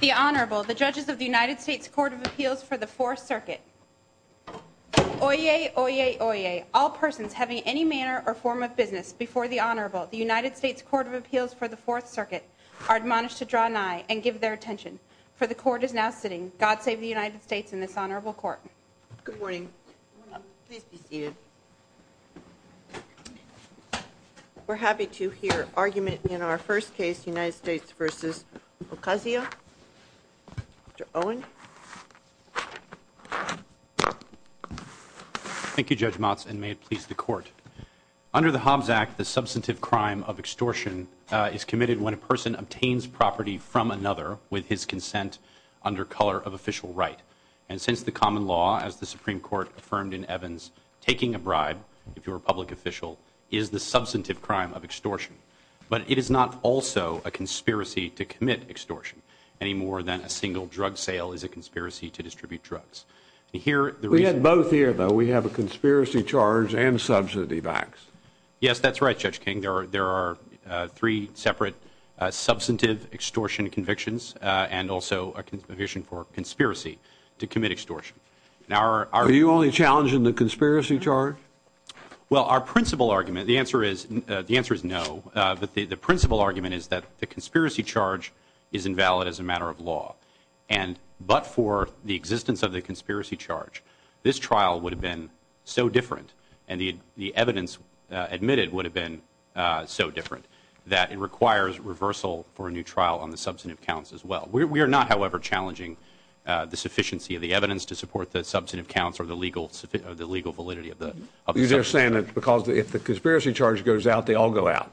The Honorable, the judges of the United States Court of Appeals for the Fourth Circuit. Oyez, oyez, oyez. All persons having any manner or form of business before the Honorable, the United States Court of Appeals for the Fourth Circuit, are admonished to draw an eye and give their attention, for the court is now sitting. God save the United States and this honorable court. Good morning. Please be seated. We're happy to hear argument in our first case, United States v. Ocasio. Mr. Owen. Thank you, Judge Motz, and may it please the court. Under the Hobbs Act, the substantive crime of extortion is committed when a person obtains property from another with his consent under color of official right. And since the common law, as the Supreme Court affirmed in Evans, taking a bribe, if you're a public official, is the substantive crime of extortion. But it is not also a conspiracy to commit extortion, any more than a single drug sale is a conspiracy to distribute drugs. We have both here, though. We have a conspiracy charge and substantive acts. Are you only challenging the conspiracy charge? Well, our principal argument, the answer is no. The principal argument is that the conspiracy charge is invalid as a matter of law. But for the existence of the conspiracy charge, this trial would have been so different, and the evidence admitted would have been so different, that it requires reversal for a new trial on the substantive counts as well. We are not, however, challenging the sufficiency of the evidence to support the substantive counts or the legal validity of the substantive counts. You're just saying that because if the conspiracy charge goes out, they all go out.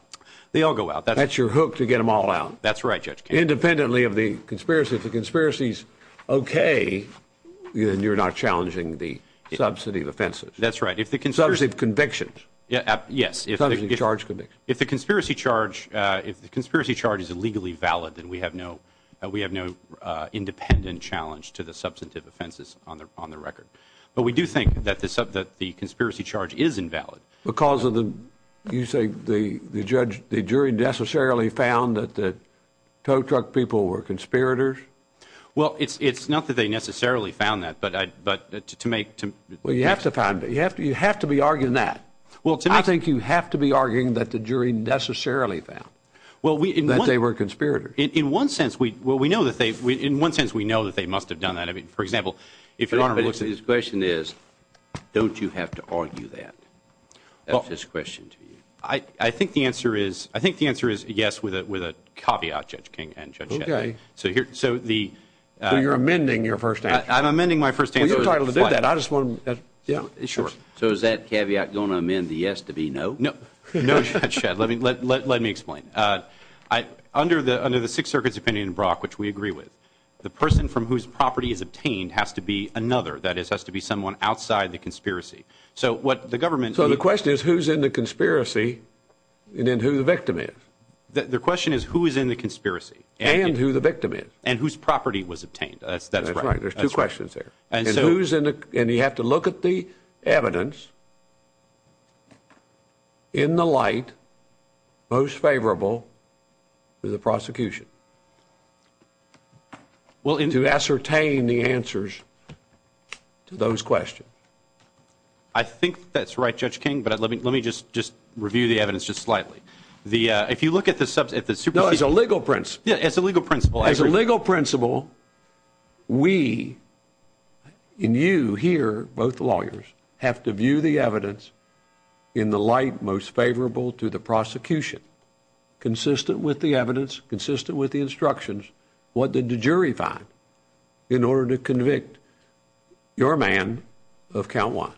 They all go out. That's your hook to get them all out. That's right, Judge Kennedy. Independently of the conspiracy, if the conspiracy's okay, then you're not challenging the substantive offenses. That's right. Substantive convictions. Yes. Substantive charge convictions. If the conspiracy charge is legally valid, then we have no independent challenge to the substantive offenses on the record. But we do think that the conspiracy charge is invalid. Because of the, you say, the jury necessarily found that the tow truck people were conspirators? Well, it's not that they necessarily found that, but to make – Well, you have to find it. You have to be arguing that. I think you have to be arguing that the jury necessarily found that they were conspirators. In one sense, we know that they must have done that. I mean, for example, if your Honor looks at – His question is, don't you have to argue that? That's his question to you. I think the answer is yes with a caveat, Judge King and Judge Kennedy. Okay. So you're amending your first answer? I'm amending my first answer. Well, you're entitled to do that. I just want to – Yeah, sure. So is that caveat going to amend the yes to be no? No, Judge Shedd. Let me explain. Under the Sixth Circuit's opinion in Brock, which we agree with, the person from whose property is obtained has to be another, that is, has to be someone outside the conspiracy. So what the government – So the question is who's in the conspiracy and then who the victim is. The question is who is in the conspiracy. And who the victim is. And whose property was obtained. That's right. That's right. There's two questions there. And you have to look at the evidence in the light most favorable to the prosecution to ascertain the answers to those questions. I think that's right, Judge King, but let me just review the evidence just slightly. If you look at the – No, as a legal principle. Yeah, as a legal principle. As a legal principle, we, and you here, both lawyers, have to view the evidence in the light most favorable to the prosecution, consistent with the evidence, consistent with the instructions, what did the jury find in order to convict your man of count one?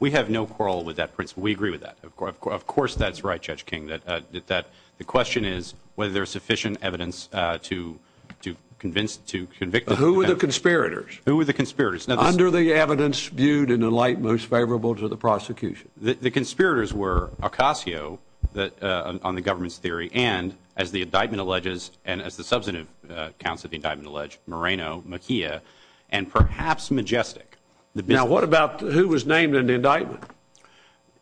We have no quarrel with that principle. We agree with that. Of course that's right, Judge King. The question is whether there is sufficient evidence to convince, to convict the defendant. Who were the conspirators? Who were the conspirators? Under the evidence viewed in the light most favorable to the prosecution. The conspirators were Acasio on the government's theory and, as the indictment alleges and as the substantive counts of the indictment allege, Moreno, Mejia, and perhaps Majestic. Now, what about who was named in the indictment?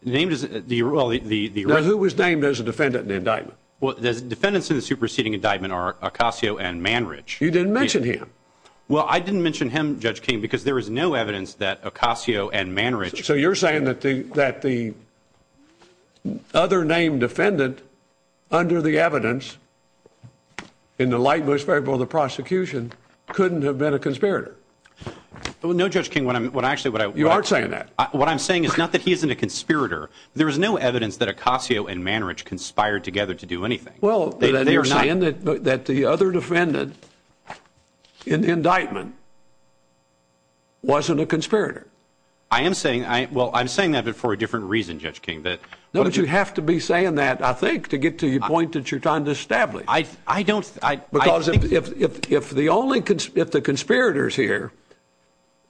Who was named as a defendant in the indictment? The defendants in the superseding indictment are Acasio and Manrich. You didn't mention him. Well, I didn't mention him, Judge King, because there is no evidence that Acasio and Manrich. So you're saying that the other named defendant, under the evidence, in the light most favorable to the prosecution, couldn't have been a conspirator? No, Judge King. You aren't saying that. What I'm saying is not that he isn't a conspirator. There is no evidence that Acasio and Manrich conspired together to do anything. Well, then you're saying that the other defendant in the indictment wasn't a conspirator. I am saying that, but for a different reason, Judge King. No, but you have to be saying that, I think, to get to the point that you're trying to establish. I don't. Because if the conspirators here,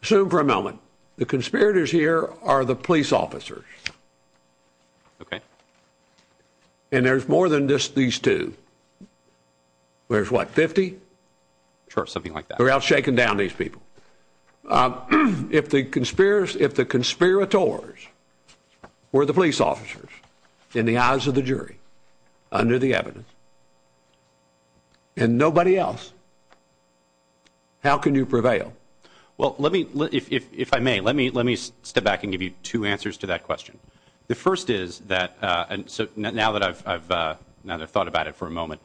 assume for a moment, the conspirators here are the police officers. Okay. And there's more than just these two. There's what, 50? Sure, something like that. We're out shaking down these people. If the conspirators were the police officers, in the eyes of the jury, under the evidence, and nobody else, how can you prevail? Well, let me, if I may, let me step back and give you two answers to that question. The first is that, now that I've thought about it for a moment,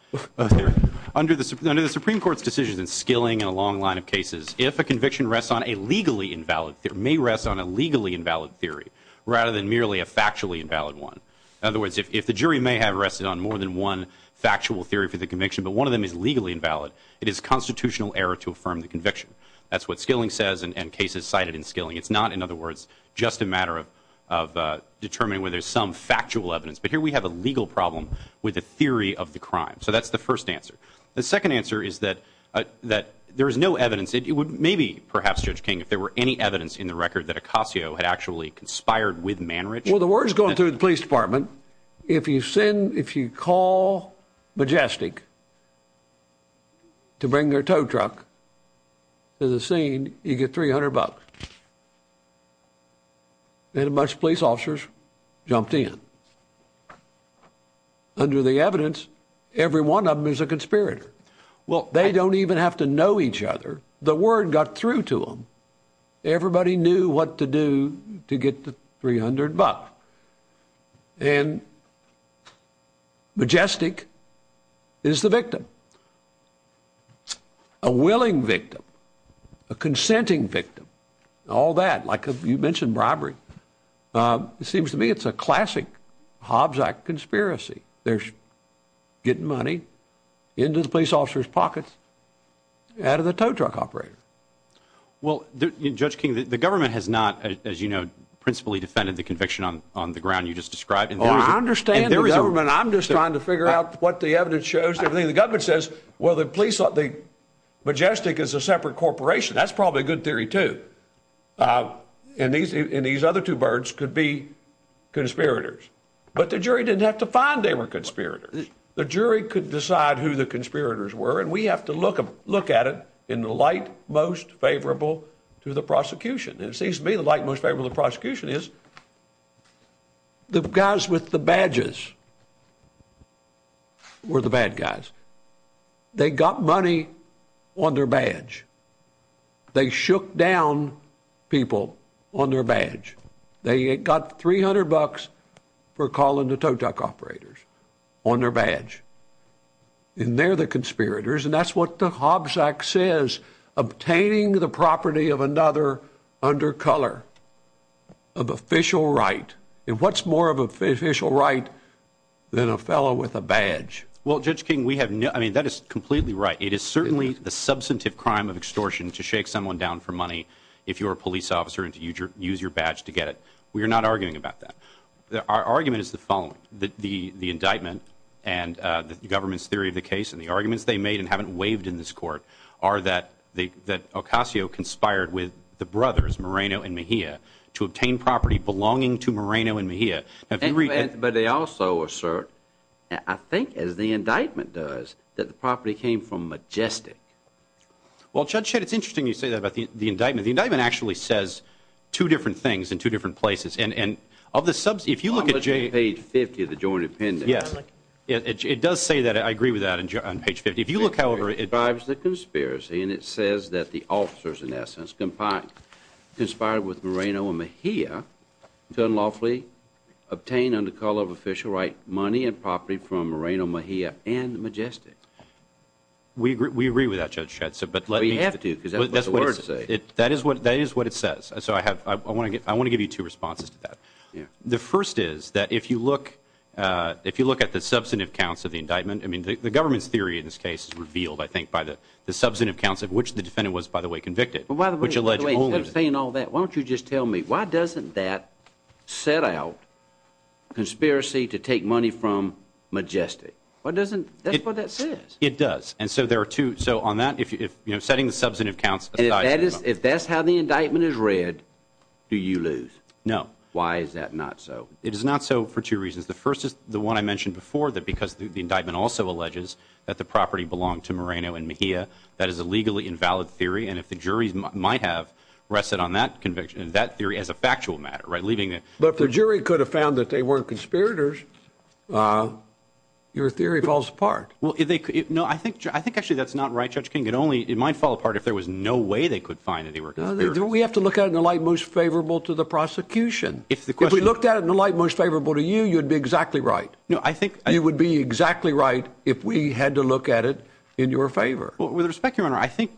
under the Supreme Court's decision in Skilling and a long line of cases, if a conviction rests on a legally invalid, may rest on a legally invalid theory, rather than merely a factually invalid one. In other words, if the jury may have rested on more than one factual theory for the conviction, but one of them is legally invalid, it is constitutional error to affirm the conviction. That's what Skilling says, and cases cited in Skilling. It's not, in other words, just a matter of determining whether there's some factual evidence. But here we have a legal problem with a theory of the crime. So that's the first answer. The second answer is that there is no evidence. It would maybe, perhaps, Judge King, if there were any evidence in the record that Acasio had actually conspired with Manrich. Well, the word's going through the police department. If you send, if you call Majestic to bring their tow truck to the scene, you get 300 bucks. And a bunch of police officers jumped in. Under the evidence, every one of them is a conspirator. Well, they don't even have to know each other. The word got through to them. Everybody knew what to do to get the 300 bucks. And Majestic is the victim, a willing victim, a consenting victim, all that. Like you mentioned, bribery. It seems to me it's a classic Hobbs Act conspiracy. They're getting money into the police officers' pockets out of the tow truck operator. Well, Judge King, the government has not, as you know, principally defended the conviction on the ground you just described. Well, I understand the government. I'm just trying to figure out what the evidence shows. The government says, well, the police, Majestic is a separate corporation. That's probably a good theory, too. And these other two birds could be conspirators. But the jury didn't have to find they were conspirators. The jury could decide who the conspirators were, and we have to look at it in the light most favorable to the prosecution. And it seems to me the light most favorable to the prosecution is the guys with the badges were the bad guys. They got money on their badge. They shook down people on their badge. They got $300 for calling the tow truck operators on their badge. And they're the conspirators. And that's what the Hobbs Act says, obtaining the property of another undercolor of official right. And what's more of an official right than a fellow with a badge? Well, Judge King, we have no, I mean, that is completely right. It is certainly the substantive crime of extortion to shake someone down for money if you're a police officer and to use your badge to get it. We are not arguing about that. Our argument is the following, that the indictment and the government's theory of the case and the arguments they made and haven't waived in this court are that Ocasio conspired with the brothers Moreno and Mejia to obtain property belonging to Moreno and Mejia. But they also assert, I think as the indictment does, that the property came from Majestic. Well, Judge Shedd, it's interesting you say that about the indictment. The indictment actually says two different things in two different places. I'm looking at page 50 of the joint appendix. Yes, it does say that. I agree with that on page 50. It describes the conspiracy and it says that the officers, in essence, conspired with Moreno and Mejia to unlawfully obtain, under call of official right, money and property from Moreno and Mejia and Majestic. We agree with that, Judge Shedd. But you have to because that's what the words say. That is what it says. So I want to give you two responses to that. The first is that if you look at the substantive counts of the indictment, I mean the government's theory in this case is revealed, I think, by the substantive counts of which the defendant was, by the way, convicted. By the way, instead of saying all that, why don't you just tell me, why doesn't that set out conspiracy to take money from Majestic? That's what that says. It does. So on that, setting the substantive counts of the indictment. If that's how the indictment is read, do you lose? No. Why is that not so? It is not so for two reasons. The first is the one I mentioned before, that because the indictment also alleges that the property belonged to Moreno and Mejia, that is a legally invalid theory. And if the jury might have rested on that conviction, that theory as a factual matter. But if the jury could have found that they weren't conspirators, your theory falls apart. No, I think actually that's not right, Judge King. It might fall apart if there was no way they could find that they were conspirators. We have to look at it in the light most favorable to the prosecution. If we looked at it in the light most favorable to you, you'd be exactly right. No, I think. You would be exactly right if we had to look at it in your favor. With respect, Your Honor, I think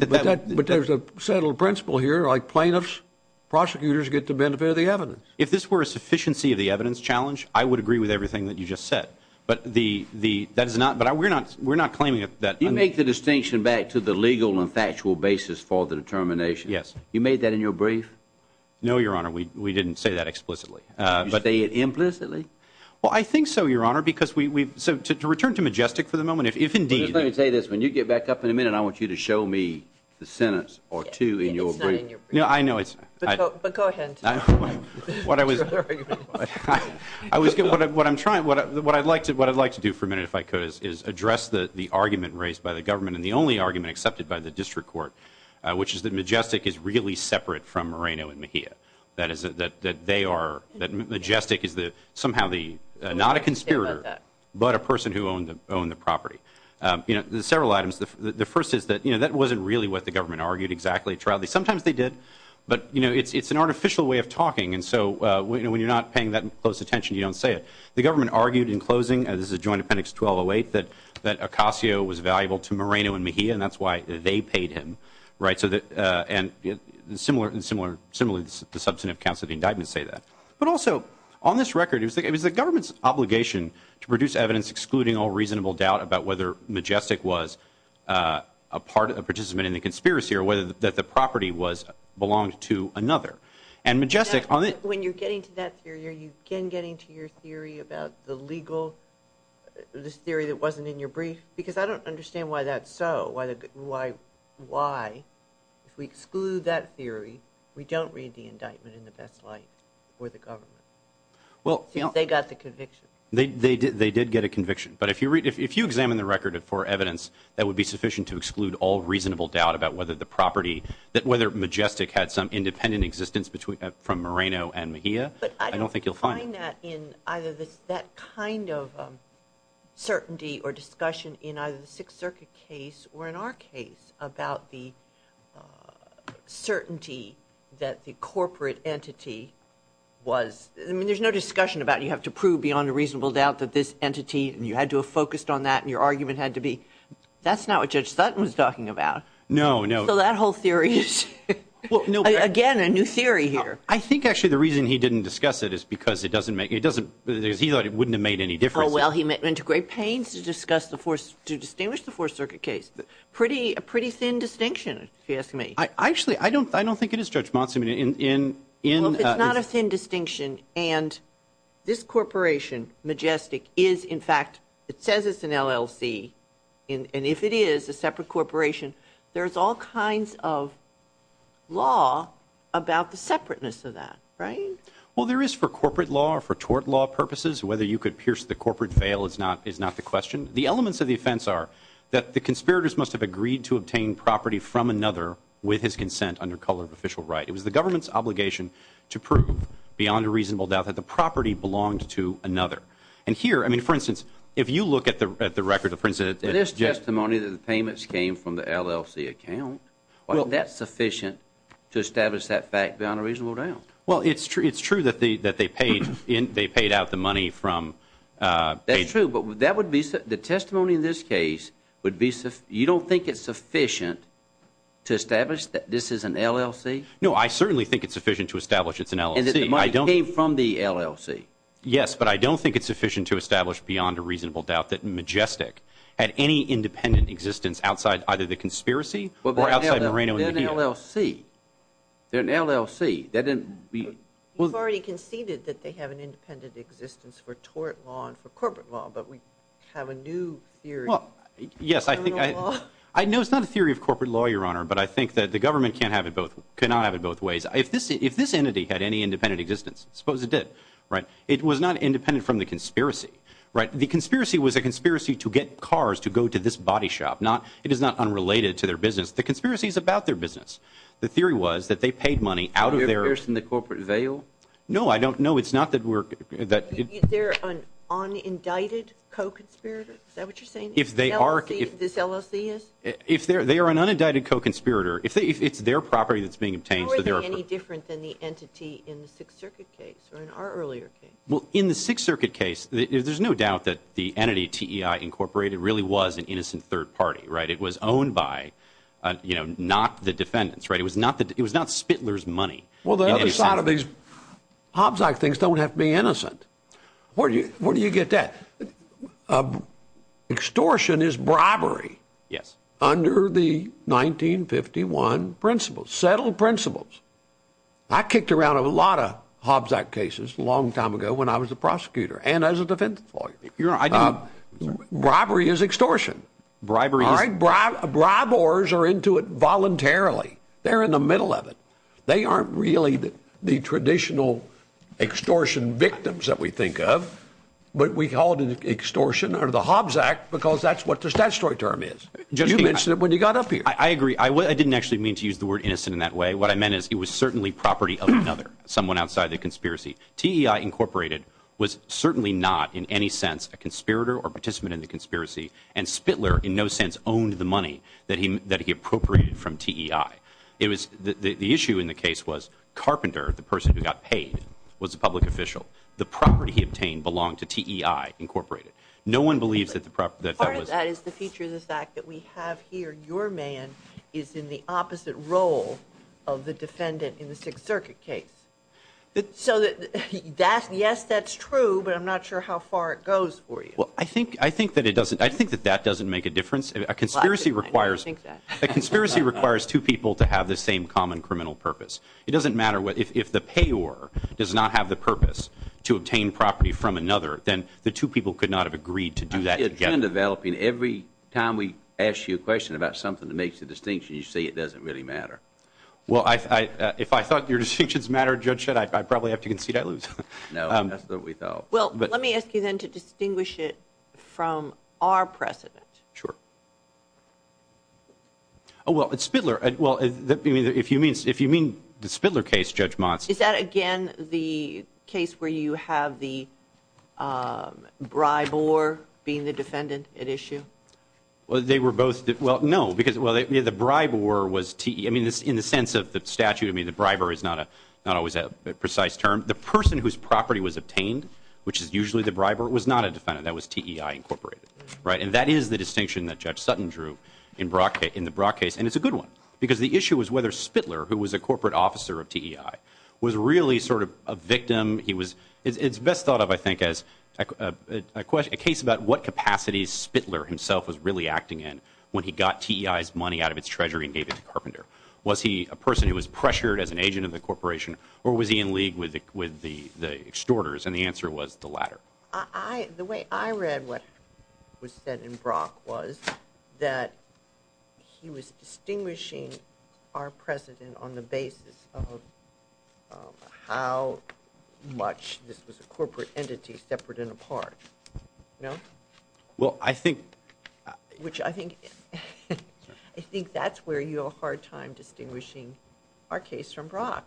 that that. But there's a settled principle here, like plaintiffs, prosecutors get to benefit of the evidence. If this were a sufficiency of the evidence challenge, I would agree with everything that you just said. But we're not claiming that. You make the distinction back to the legal and factual basis for the determination. Yes. You made that in your brief? No, Your Honor, we didn't say that explicitly. Did you say it implicitly? Well, I think so, Your Honor, because we've. So to return to Majestic for the moment, if indeed. Let me say this. When you get back up in a minute, I want you to show me the sentence or two in your brief. It's not in your brief. No, I know it's. But go ahead. What I was. I was. What I'm trying. What I'd like to do for a minute, if I could, is address the argument raised by the government and the only argument accepted by the district court, which is that Majestic is really separate from Moreno and Mejia, that Majestic is somehow not a conspirator, but a person who owned the property. There are several items. The first is that that wasn't really what the government argued exactly. Sometimes they did, but it's an artificial way of talking, and so when you're not paying that close attention, you don't say it. The government argued in closing, and this is Joint Appendix 1208, that Ocasio was valuable to Moreno and Mejia, and that's why they paid him. And similarly, the substantive counts of the indictment say that. But also, on this record, it was the government's obligation to produce evidence excluding all reasonable doubt about whether Majestic was a participant in the conspiracy or whether the property belonged to another. When you're getting to that theory, are you again getting to your theory about the legal theory that wasn't in your brief? Because I don't understand why that's so, why if we exclude that theory, we don't read the indictment in the best light for the government, since they got the conviction. They did get a conviction. But if you examine the record for evidence, that would be sufficient to exclude all reasonable doubt about whether Majestic had some independent existence from Moreno and Mejia. But I don't find that in either that kind of certainty or discussion in either the Sixth Circuit case or in our case about the certainty that the corporate entity was, I mean, there's no discussion about it. You have to prove beyond a reasonable doubt that this entity, and you had to have focused on that, and your argument had to be, that's not what Judge Sutton was talking about. No, no. So that whole theory is, again, a new theory here. I think actually the reason he didn't discuss it is because he thought it wouldn't have made any difference. Oh, well, he went to great pains to distinguish the Fourth Circuit case. A pretty thin distinction, if you ask me. Actually, I don't think it is, Judge Monson. Well, if it's not a thin distinction and this corporation, Majestic, is, in fact, it says it's an LLC, and if it is a separate corporation, there's all kinds of law about the separateness of that, right? Well, there is for corporate law or for tort law purposes. Whether you could pierce the corporate veil is not the question. The elements of the offense are that the conspirators must have agreed to obtain property from another with his consent under color of official right. It was the government's obligation to prove beyond a reasonable doubt that the property belonged to another. And here, I mean, for instance, if you look at the record, for instance, that this testimony that the payments came from the LLC account, well, that's sufficient to establish that fact beyond a reasonable doubt. Well, it's true that they paid out the money from the agency. That's true, but the testimony in this case, you don't think it's sufficient to establish that this is an LLC? No, I certainly think it's sufficient to establish it's an LLC. And that the money came from the LLC? Yes, but I don't think it's sufficient to establish beyond a reasonable doubt that Majestic had any independent existence outside either the conspiracy or outside Moreno and Medina. But they're an LLC. They're an LLC. You've already conceded that they have an independent existence for tort law and for corporate law, but we have a new theory. Well, yes, I know it's not a theory of corporate law, Your Honor, but I think that the government cannot have it both ways. If this entity had any independent existence, suppose it did, it was not independent from the conspiracy. Right? The conspiracy was a conspiracy to get cars to go to this body shop. It is not unrelated to their business. The conspiracy is about their business. The theory was that they paid money out of their own. Are they a person in the corporate veil? No, I don't know. It's not that we're – Are they an unindicted co-conspirator? Is that what you're saying? If they are – This LLC is? They are an unindicted co-conspirator. It's their property that's being obtained. How are they any different than the entity in the Sixth Circuit case or in our earlier case? Well, in the Sixth Circuit case, there's no doubt that the entity, TEI Incorporated, really was an innocent third party. Right? It was owned by, you know, not the defendants. Right? It was not the – It was not Spittler's money. Well, the other side of these Hobbs Act things don't have to be innocent. Where do you get that? Extortion is bribery. Yes. Under the 1951 principles, settled principles. I kicked around a lot of Hobbs Act cases a long time ago when I was a prosecutor and as a defense lawyer. Bribery is extortion. Bribery is – Bribers are into it voluntarily. They're in the middle of it. They aren't really the traditional extortion victims that we think of, but we call it an extortion under the Hobbs Act because that's what the statutory term is. You mentioned it when you got up here. I agree. I didn't actually mean to use the word innocent in that way. What I meant is it was certainly property of another, someone outside the conspiracy. TEI Incorporated was certainly not in any sense a conspirator or participant in the conspiracy, and Spittler in no sense owned the money that he appropriated from TEI. It was – the issue in the case was Carpenter, the person who got paid, was a public official. The property he obtained belonged to TEI Incorporated. No one believes that the – Part of that is the feature of this act that we have here. Your man is in the opposite role of the defendant in the Sixth Circuit case. So yes, that's true, but I'm not sure how far it goes for you. Well, I think that it doesn't – I think that that doesn't make a difference. A conspiracy requires two people to have the same common criminal purpose. It doesn't matter if the payor does not have the purpose to obtain property from another, then the two people could not have agreed to do that together. Every time we ask you a question about something that makes a distinction, you say it doesn't really matter. Well, if I thought your distinctions mattered, Judge Shedd, I'd probably have to concede I lose. No, that's what we thought. Well, let me ask you then to distinguish it from our precedent. Sure. Oh, well, at Spittler – well, if you mean the Spittler case, Judge Monson. Is that, again, the case where you have the briber being the defendant at issue? Well, they were both – well, no, because the briber was – I mean, in the sense of the statute, I mean, the briber is not always a precise term. The person whose property was obtained, which is usually the briber, was not a defendant. That was TEI, Incorporated. And that is the distinction that Judge Sutton drew in the Brock case, and it's a good one, because the issue was whether Spittler, who was a corporate officer of TEI, was really sort of a victim. It's best thought of, I think, as a case about what capacities Spittler himself was really acting in when he got TEI's money out of its treasury and gave it to Carpenter. Was he a person who was pressured as an agent of the corporation, or was he in league with the extorters? And the answer was the latter. The way I read what was said in Brock was that he was distinguishing our president on the basis of how much this was a corporate entity separate and apart. No? Well, I think – Which I think – I think that's where you have a hard time distinguishing our case from Brock.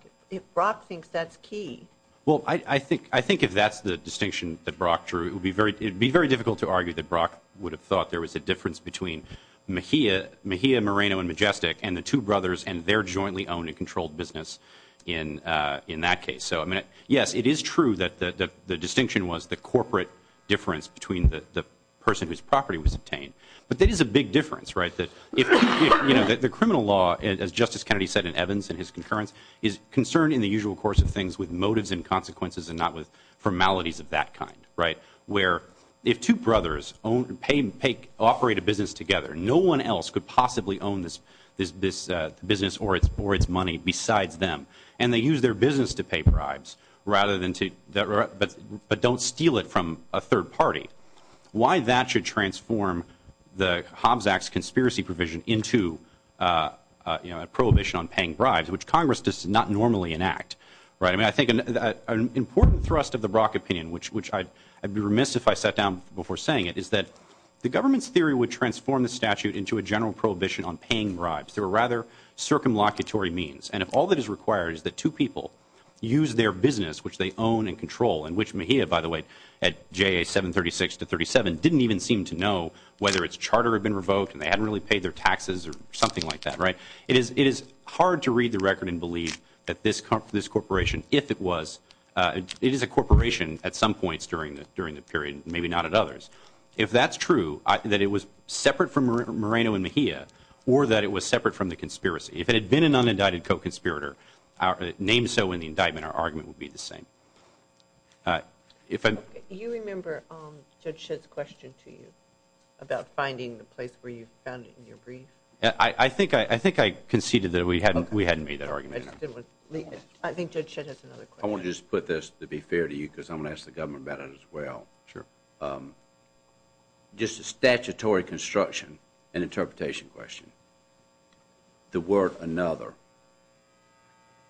Brock thinks that's key. Well, I think if that's the distinction that Brock drew, it would be very difficult to argue that Brock would have thought there was a difference between Mejia Moreno and Majestic and the two brothers and their jointly owned and controlled business in that case. So, yes, it is true that the distinction was the corporate difference between the person whose property was obtained. But that is a big difference, right? The criminal law, as Justice Kennedy said in Evans and his concurrence, is concerned in the usual course of things with motives and consequences and not with formalities of that kind, right? Where if two brothers operate a business together, no one else could possibly own this business or its money besides them. And they use their business to pay bribes, but don't steal it from a third party. Why that should transform the Hobbs Act's conspiracy provision into a prohibition on paying bribes, which Congress does not normally enact, right? I mean, I think an important thrust of the Brock opinion, which I'd be remiss if I sat down before saying it, is that the government's theory would transform the statute into a general prohibition on paying bribes through a rather circumlocutory means. And if all that is required is that two people use their business, which they own and control, and which Mejia, by the way, at JA 736 to 37, didn't even seem to know whether its charter had been revoked and they hadn't really paid their taxes or something like that, right? It is hard to read the record and believe that this corporation, if it was, it is a corporation at some points during the period, maybe not at others. If that's true, that it was separate from Moreno and Mejia, or that it was separate from the conspiracy, if it had been an unindicted co-conspirator, named so in the indictment, our argument would be the same. Do you remember Judge Shedd's question to you about finding the place where you found it in your brief? I think I conceded that we hadn't made that argument. I think Judge Shedd has another question. I want to just put this, to be fair to you, because I'm going to ask the government about it as well. Just a statutory construction and interpretation question. The word another.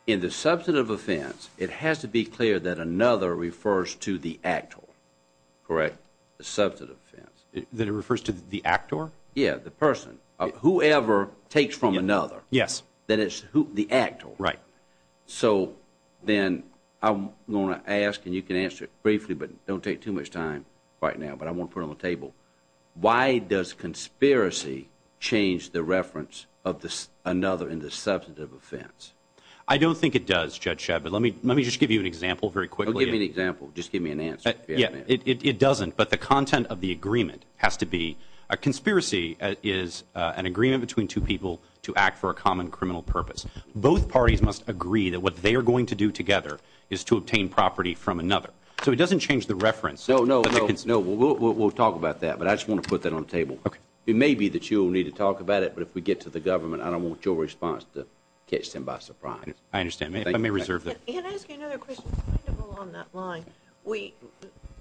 In the substantive offense, it has to be clear that another refers to the actor, correct? The substantive offense. That it refers to the actor? Yeah, the person. Whoever takes from another. Yes. That it's the actor. Right. So then I'm going to ask, and you can answer it briefly, but don't take too much time right now, but I want to put it on the table. Why does conspiracy change the reference of another in the substantive offense? I don't think it does, Judge Shedd, but let me just give you an example very quickly. Give me an example. Just give me an answer. It doesn't, but the content of the agreement has to be. A conspiracy is an agreement between two people to act for a common criminal purpose. Both parties must agree that what they are going to do together is to obtain property from another. So it doesn't change the reference. No, no, no. We'll talk about that, but I just want to put that on the table. Okay. It may be that you'll need to talk about it, but if we get to the government, I don't want your response to catch them by surprise. I understand. I may reserve that. Can I ask you another question? Kind of along that line,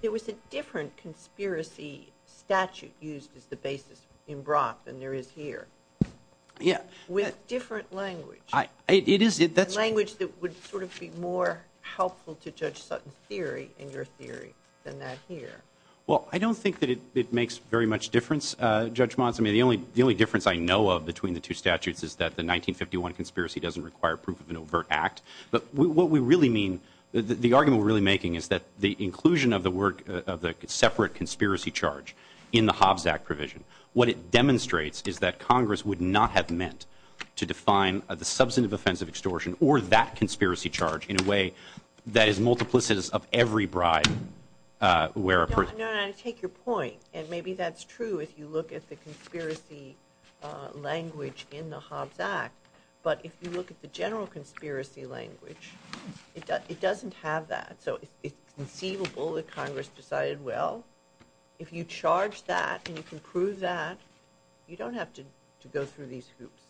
there was a different conspiracy statute used as the basis in Brock than there is here. Yeah. With different language. It is. Language that would sort of be more helpful to Judge Sutton's theory and your theory than that here. Well, I don't think that it makes very much difference, Judge Monson. The only difference I know of between the two statutes is that the 1951 conspiracy doesn't require proof of an overt act. But what we really mean, the argument we're really making, is that the inclusion of the separate conspiracy charge in the Hobbs Act provision, what it demonstrates is that Congress would not have meant to define the substantive offense of extortion or that conspiracy charge in a way that is multiplicitous of every bribe. No, no. I take your point. And maybe that's true if you look at the conspiracy language in the Hobbs Act. But if you look at the general conspiracy language, it doesn't have that. So it's conceivable that Congress decided, well, if you charge that and you can prove that, you don't have to go through these hoops.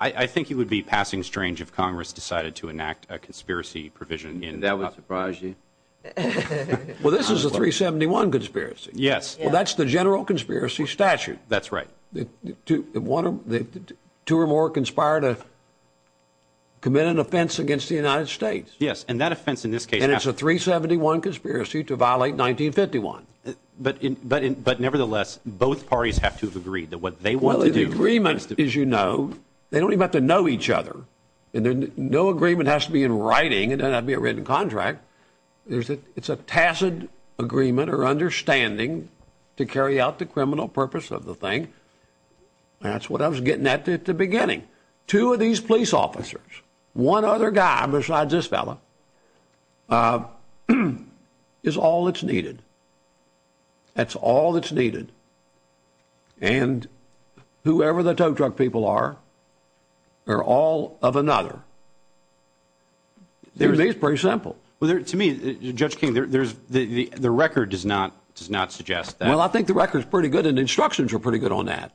I think it would be passing strange if Congress decided to enact a conspiracy provision. That would surprise you? Well, this is a 371 conspiracy. Yes. Well, that's the general conspiracy statute. That's right. Two or more conspire to commit an offense against the United States. Yes. And that offense in this case. And it's a 371 conspiracy to violate 1951. But nevertheless, both parties have to have agreed that what they want to do. Well, the agreement, as you know, they don't even have to know each other. And no agreement has to be in writing. It doesn't have to be a written contract. It's a tacit agreement or understanding to carry out the criminal purpose of the thing. That's what I was getting at at the beginning. Two of these police officers, one other guy besides this fellow, is all that's needed. That's all that's needed. And whoever the tow truck people are, they're all of another. To me, it's pretty simple. To me, Judge King, the record does not suggest that. Well, I think the record's pretty good and the instructions are pretty good on that.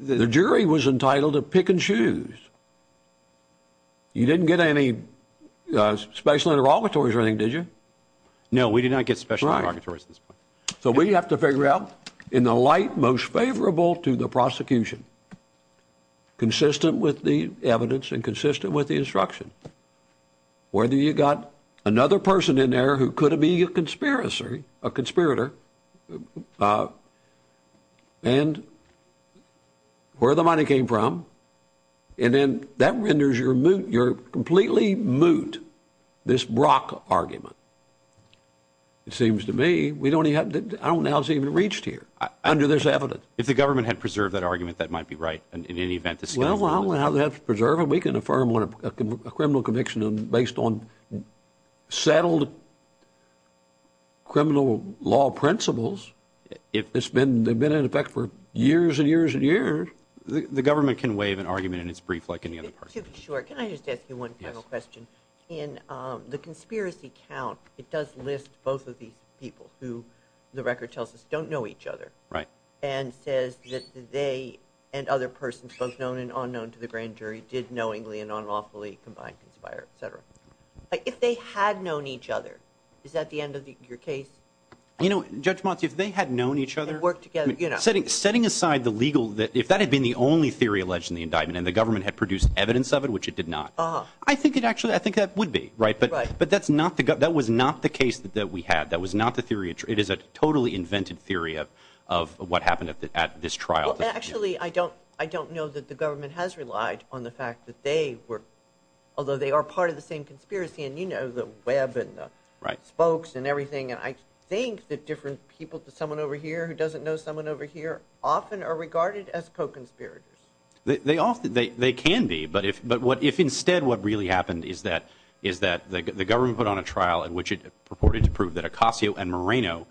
The jury was entitled to pick and choose. You didn't get any special interrogatories or anything, did you? No, we did not get special interrogatories at this point. So we have to figure out in the light most favorable to the prosecution, consistent with the evidence and consistent with the instruction, whether you got another person in there who could be a conspirator and where the money came from, and then that renders your moot, your completely moot, this Brock argument. It seems to me we don't even have to, I don't know how it's even reached here under this evidence. If the government had preserved that argument, that might be right in any event. Well, we don't have to preserve it. We can affirm a criminal conviction based on settled criminal law principles. It's been in effect for years and years and years. The government can waive an argument and it's brief like any other party. To be sure, can I just ask you one final question? In the conspiracy count, it does list both of these people who the record tells us don't know each other. Right. And says that they and other persons, both known and unknown to the grand jury, did knowingly and unlawfully combine, conspire, et cetera. If they had known each other, is that the end of your case? You know, Judge Motley, if they had known each other. They worked together, you know. Setting aside the legal, if that had been the only theory alleged in the indictment and the government had produced evidence of it, which it did not. I think it actually, I think that would be, right? Right. But that's not the, that was not the case that we had. That was not the theory. It is a totally invented theory of what happened at this trial. Actually, I don't know that the government has relied on the fact that they were, although they are part of the same conspiracy and you know the web and the spokes and everything. And I think that different people, someone over here who doesn't know someone over here, often are regarded as co-conspirators. They often, they can be. But if instead what really happened is that the government put on a trial in which it purported to prove that Acasio and Moreno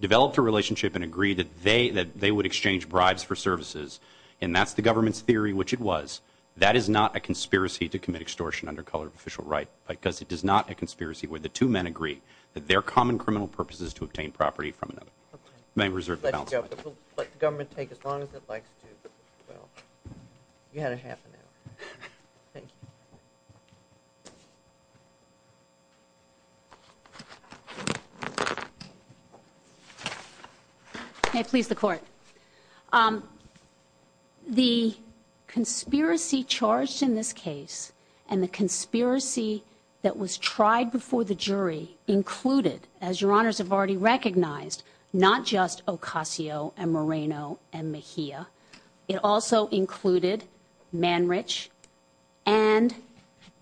developed a relationship and agreed that they would exchange bribes for services, and that's the government's theory, which it was, that is not a conspiracy to commit extortion under color of official right. Because it is not a conspiracy where the two men agree that their common criminal purposes to obtain property from another may reserve the balance of it. Let the government take as long as it likes to. Well, you had a half an hour. Thank you. May it please the court. The conspiracy charged in this case and the conspiracy that was tried before the jury included, as your honors have already recognized, not just Acasio and Moreno and Mejia. It also included Manrich and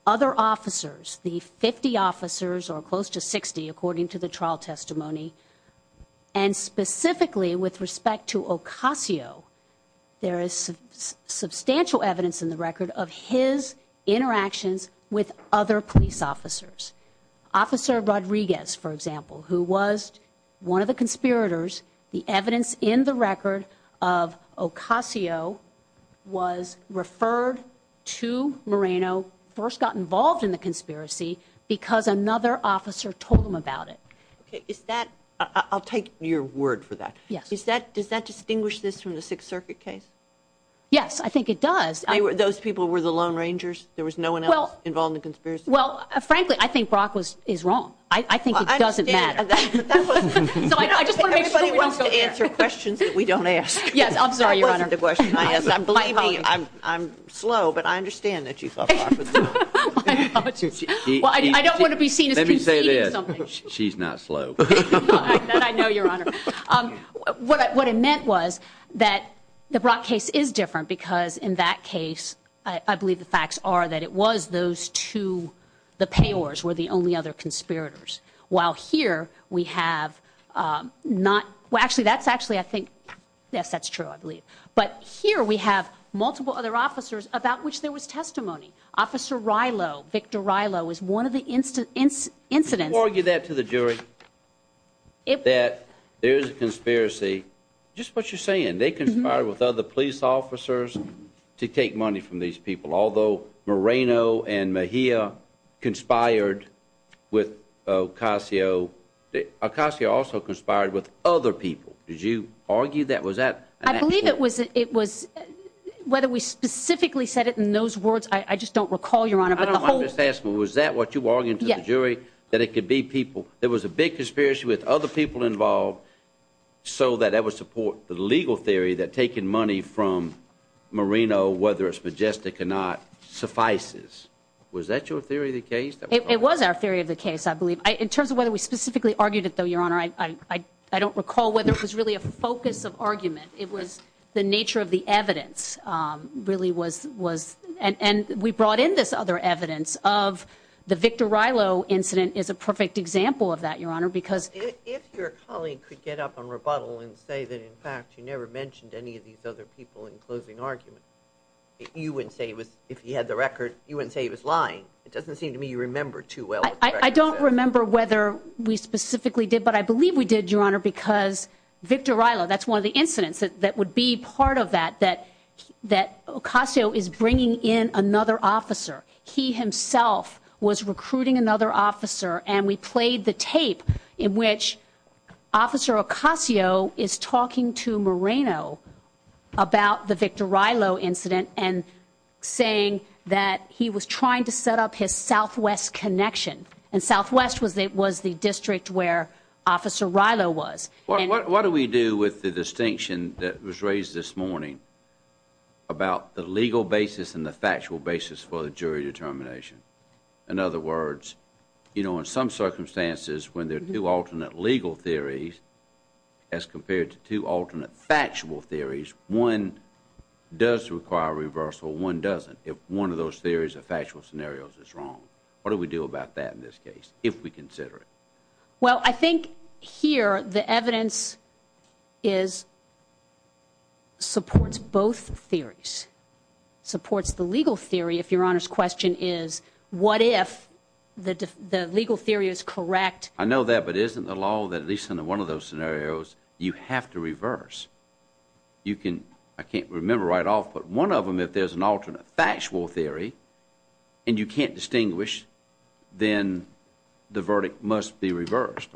other officers. The 50 officers, or close to 60 according to the trial testimony, and specifically with respect to Acasio, there is substantial evidence in the record of his interactions with other police officers. Officer Rodriguez, for example, who was one of the conspirators, the evidence in the record of Acasio was referred to Moreno, who first got involved in the conspiracy because another officer told him about it. I'll take your word for that. Does that distinguish this from the Sixth Circuit case? Yes, I think it does. Those people were the Lone Rangers? There was no one else involved in the conspiracy? Well, frankly, I think Brock is wrong. I think it doesn't matter. I just want to make sure we don't go there. Yes, I'm sorry, Your Honor. I'm slow, but I understand that you thought Brock was slow. Well, I don't want to be seen as conceiving something. Let me say this. She's not slow. That I know, Your Honor. What it meant was that the Brock case is different because in that case, I believe the facts are that it was those two, the payors, were the only other conspirators, while here we have not. Well, actually, that's actually, I think. Yes, that's true, I believe. But here we have multiple other officers about which there was testimony. Officer Rilo, Victor Rilo, is one of the incidents. Can you argue that to the jury that there is a conspiracy? Just what you're saying. They conspired with other police officers to take money from these people, although Moreno and Mejia conspired with Ocasio. Ocasio also conspired with other people. Did you argue that? I believe it was whether we specifically said it in those words. I just don't recall, Your Honor. Was that what you argued to the jury, that it could be people? There was a big conspiracy with other people involved, so that would support the legal theory that taking money from Moreno, whether it's majestic or not, suffices. Was that your theory of the case? It was our theory of the case, I believe. In terms of whether we specifically argued it, though, Your Honor, I don't recall whether it was really a focus of argument. It was the nature of the evidence really was. And we brought in this other evidence of the Victor Rilo incident is a perfect example of that, Your Honor. If your colleague could get up and rebuttal and say that, in fact, you never mentioned any of these other people in closing argument, you wouldn't say if he had the record, you wouldn't say he was lying. It doesn't seem to me you remember too well. I don't remember whether we specifically did, but I believe we did, Your Honor, because Victor Rilo, that's one of the incidents that would be part of that, that Ocasio is bringing in another officer. He himself was recruiting another officer, and we played the tape in which Officer Ocasio is talking to Moreno about the Victor Rilo incident and saying that he was trying to set up his Southwest connection, and Southwest was the district where Officer Rilo was. What do we do with the distinction that was raised this morning about the legal basis and the factual basis for the jury determination? In other words, you know, in some circumstances, when there are two alternate legal theories as compared to two alternate factual theories, one does require reversal, one doesn't, if one of those theories or factual scenarios is wrong. What do we do about that in this case if we consider it? Well, I think here the evidence supports both theories, supports the legal theory if Your Honor's question is what if the legal theory is correct? I know that, but isn't the law that at least in one of those scenarios you have to reverse? I can't remember right off, but one of them, if there's an alternate factual theory and you can't distinguish, then the verdict must be reversed,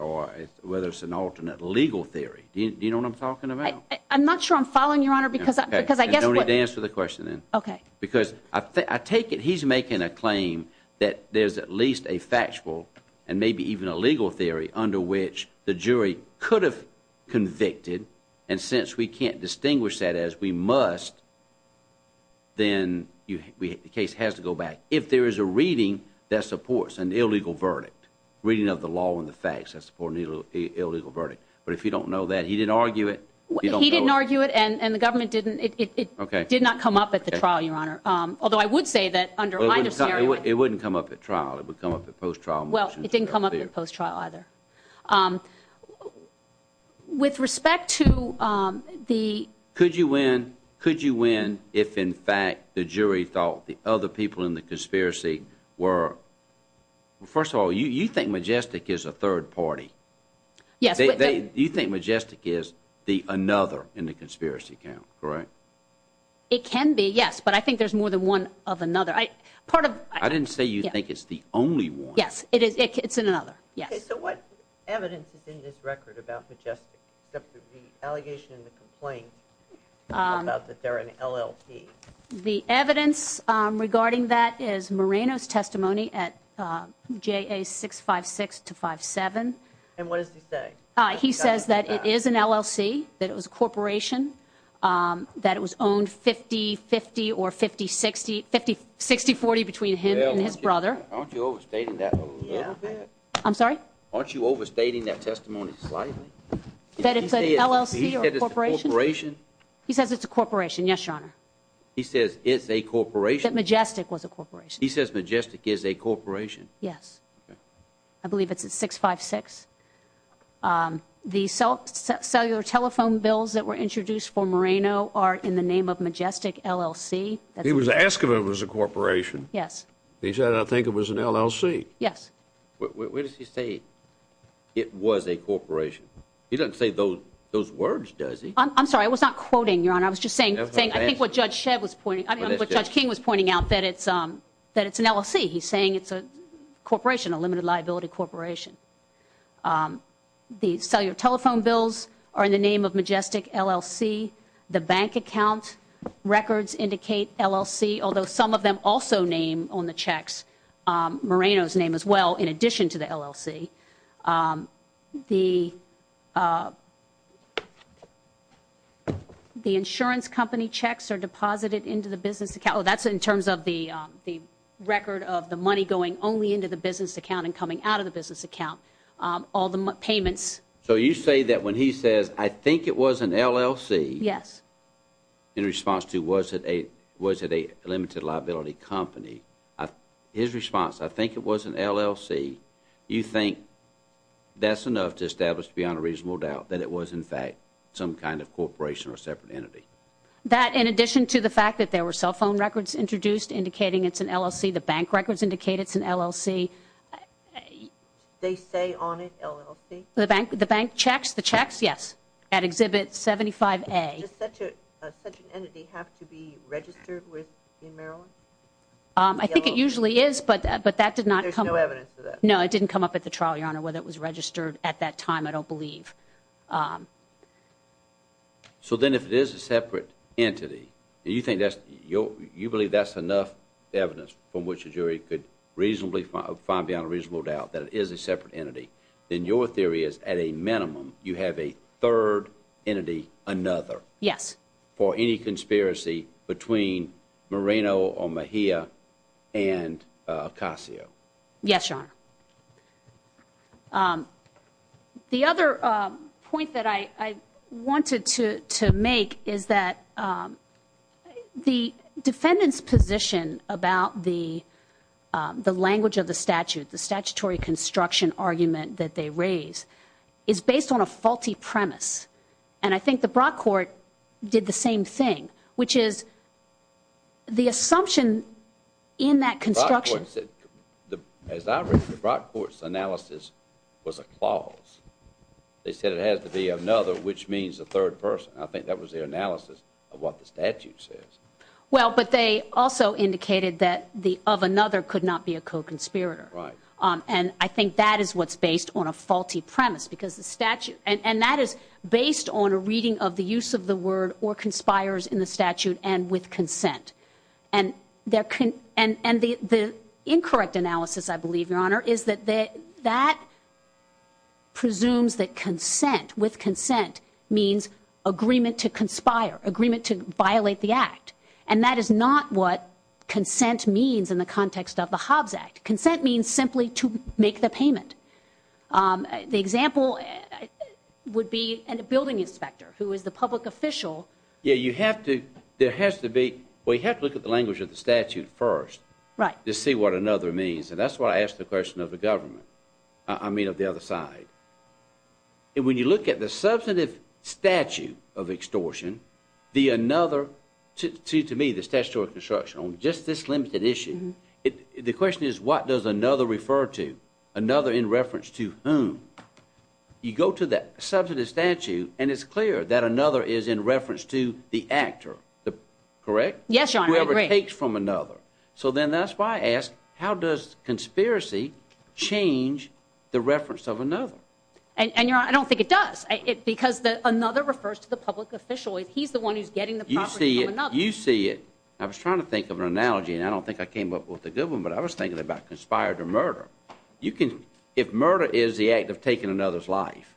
whether it's an alternate legal theory. Do you know what I'm talking about? I'm not sure I'm following, Your Honor, because I guess what... I'll answer the question then. Okay. Because I take it he's making a claim that there's at least a factual and maybe even a legal theory under which the jury could have convicted, and since we can't distinguish that as we must, then the case has to go back. If there is a reading that supports an illegal verdict, reading of the law and the facts that support an illegal verdict, but if you don't know that, he didn't argue it. He didn't argue it, and the government didn't. It did not come up at the trial, Your Honor, although I would say that under my scenario... It wouldn't come up at trial. It would come up at post-trial motions. Well, it didn't come up at post-trial either. With respect to the... Could you win if, in fact, the jury thought the other people in the conspiracy were... First of all, you think Majestic is a third party. Yes. You think Majestic is the another in the conspiracy count, correct? It can be, yes, but I think there's more than one of another. I didn't say you think it's the only one. Yes, it's another, yes. Okay, so what evidence is in this record about Majestic except for the allegation and the complaint about that they're an LLP? The evidence regarding that is Moreno's testimony at JA 656-57. And what does he say? He says that it is an LLC, that it was a corporation, that it was owned 50-50 or 50-60, 60-40 between him and his brother. Aren't you overstating that a little bit? I'm sorry? Aren't you overstating that testimony slightly? That it's an LLC or corporation? He says it's a corporation. He says it's a corporation, yes, Your Honor. He says it's a corporation? That Majestic was a corporation. He says Majestic is a corporation. Yes. I believe it's at 656. The cellular telephone bills that were introduced for Moreno are in the name of Majestic LLC. He was asked if it was a corporation. Yes. He said, I think it was an LLC. Yes. Where does he say it was a corporation? He doesn't say those words, does he? I'm sorry, I was not quoting, Your Honor. I was just saying I think what Judge King was pointing out, that it's an LLC. He's saying it's a corporation, a limited liability corporation. The cellular telephone bills are in the name of Majestic LLC. The bank account records indicate LLC, although some of them also name on the checks Moreno's name as well in addition to the LLC. The insurance company checks are deposited into the business account. So that's in terms of the record of the money going only into the business account and coming out of the business account, all the payments. So you say that when he says, I think it was an LLC, in response to was it a limited liability company, his response, I think it was an LLC, you think that's enough to establish beyond a reasonable doubt that it was, in fact, some kind of corporation or separate entity. That in addition to the fact that there were cell phone records introduced indicating it's an LLC, the bank records indicate it's an LLC. They say on it LLC? The bank checks, yes, at Exhibit 75A. Does such an entity have to be registered with in Maryland? I think it usually is, but that did not come up. There's no evidence of that? No, it didn't come up at the trial, Your Honor, whether it was registered at that time, I don't believe. So then if it is a separate entity, and you believe that's enough evidence from which a jury could reasonably find beyond a reasonable doubt that it is a separate entity, then your theory is at a minimum you have a third entity another? Yes. For any conspiracy between Moreno or Mejia and Acasio? Yes, Your Honor. The other point that I wanted to make is that the defendant's position about the language of the statute, the statutory construction argument that they raise, is based on a faulty premise, and I think the Brock Court did the same thing, which is the assumption in that construction ---- as I read, the Brock Court's analysis was a clause. They said it has to be another, which means a third person. I think that was their analysis of what the statute says. Well, but they also indicated that the of another could not be a co-conspirator. Right. And I think that is what's based on a faulty premise, because the statute ---- and that is based on a reading of the use of the word or conspires in the statute and with consent. And the incorrect analysis, I believe, Your Honor, is that that presumes that consent, with consent, means agreement to conspire, agreement to violate the act, and that is not what consent means in the context of the Hobbs Act. Consent means simply to make the payment. The example would be a building inspector who is the public official. Yeah, you have to ---- there has to be ---- well, you have to look at the language of the statute first. Right. To see what another means, and that's why I asked the question of the government. I mean of the other side. And when you look at the substantive statute of extortion, the another ---- to me, the statutory construction on just this limited issue, the question is what does another refer to, another in reference to whom? You go to the substantive statute, and it's clear that another is in reference to the actor, correct? Yes, Your Honor, I agree. Whoever takes from another. So then that's why I ask, how does conspiracy change the reference of another? And, Your Honor, I don't think it does because another refers to the public official. He's the one who's getting the property from another. You see it. I was trying to think of an analogy, and I don't think I came up with a good one, but I was thinking about conspired to murder. If murder is the act of taking another's life,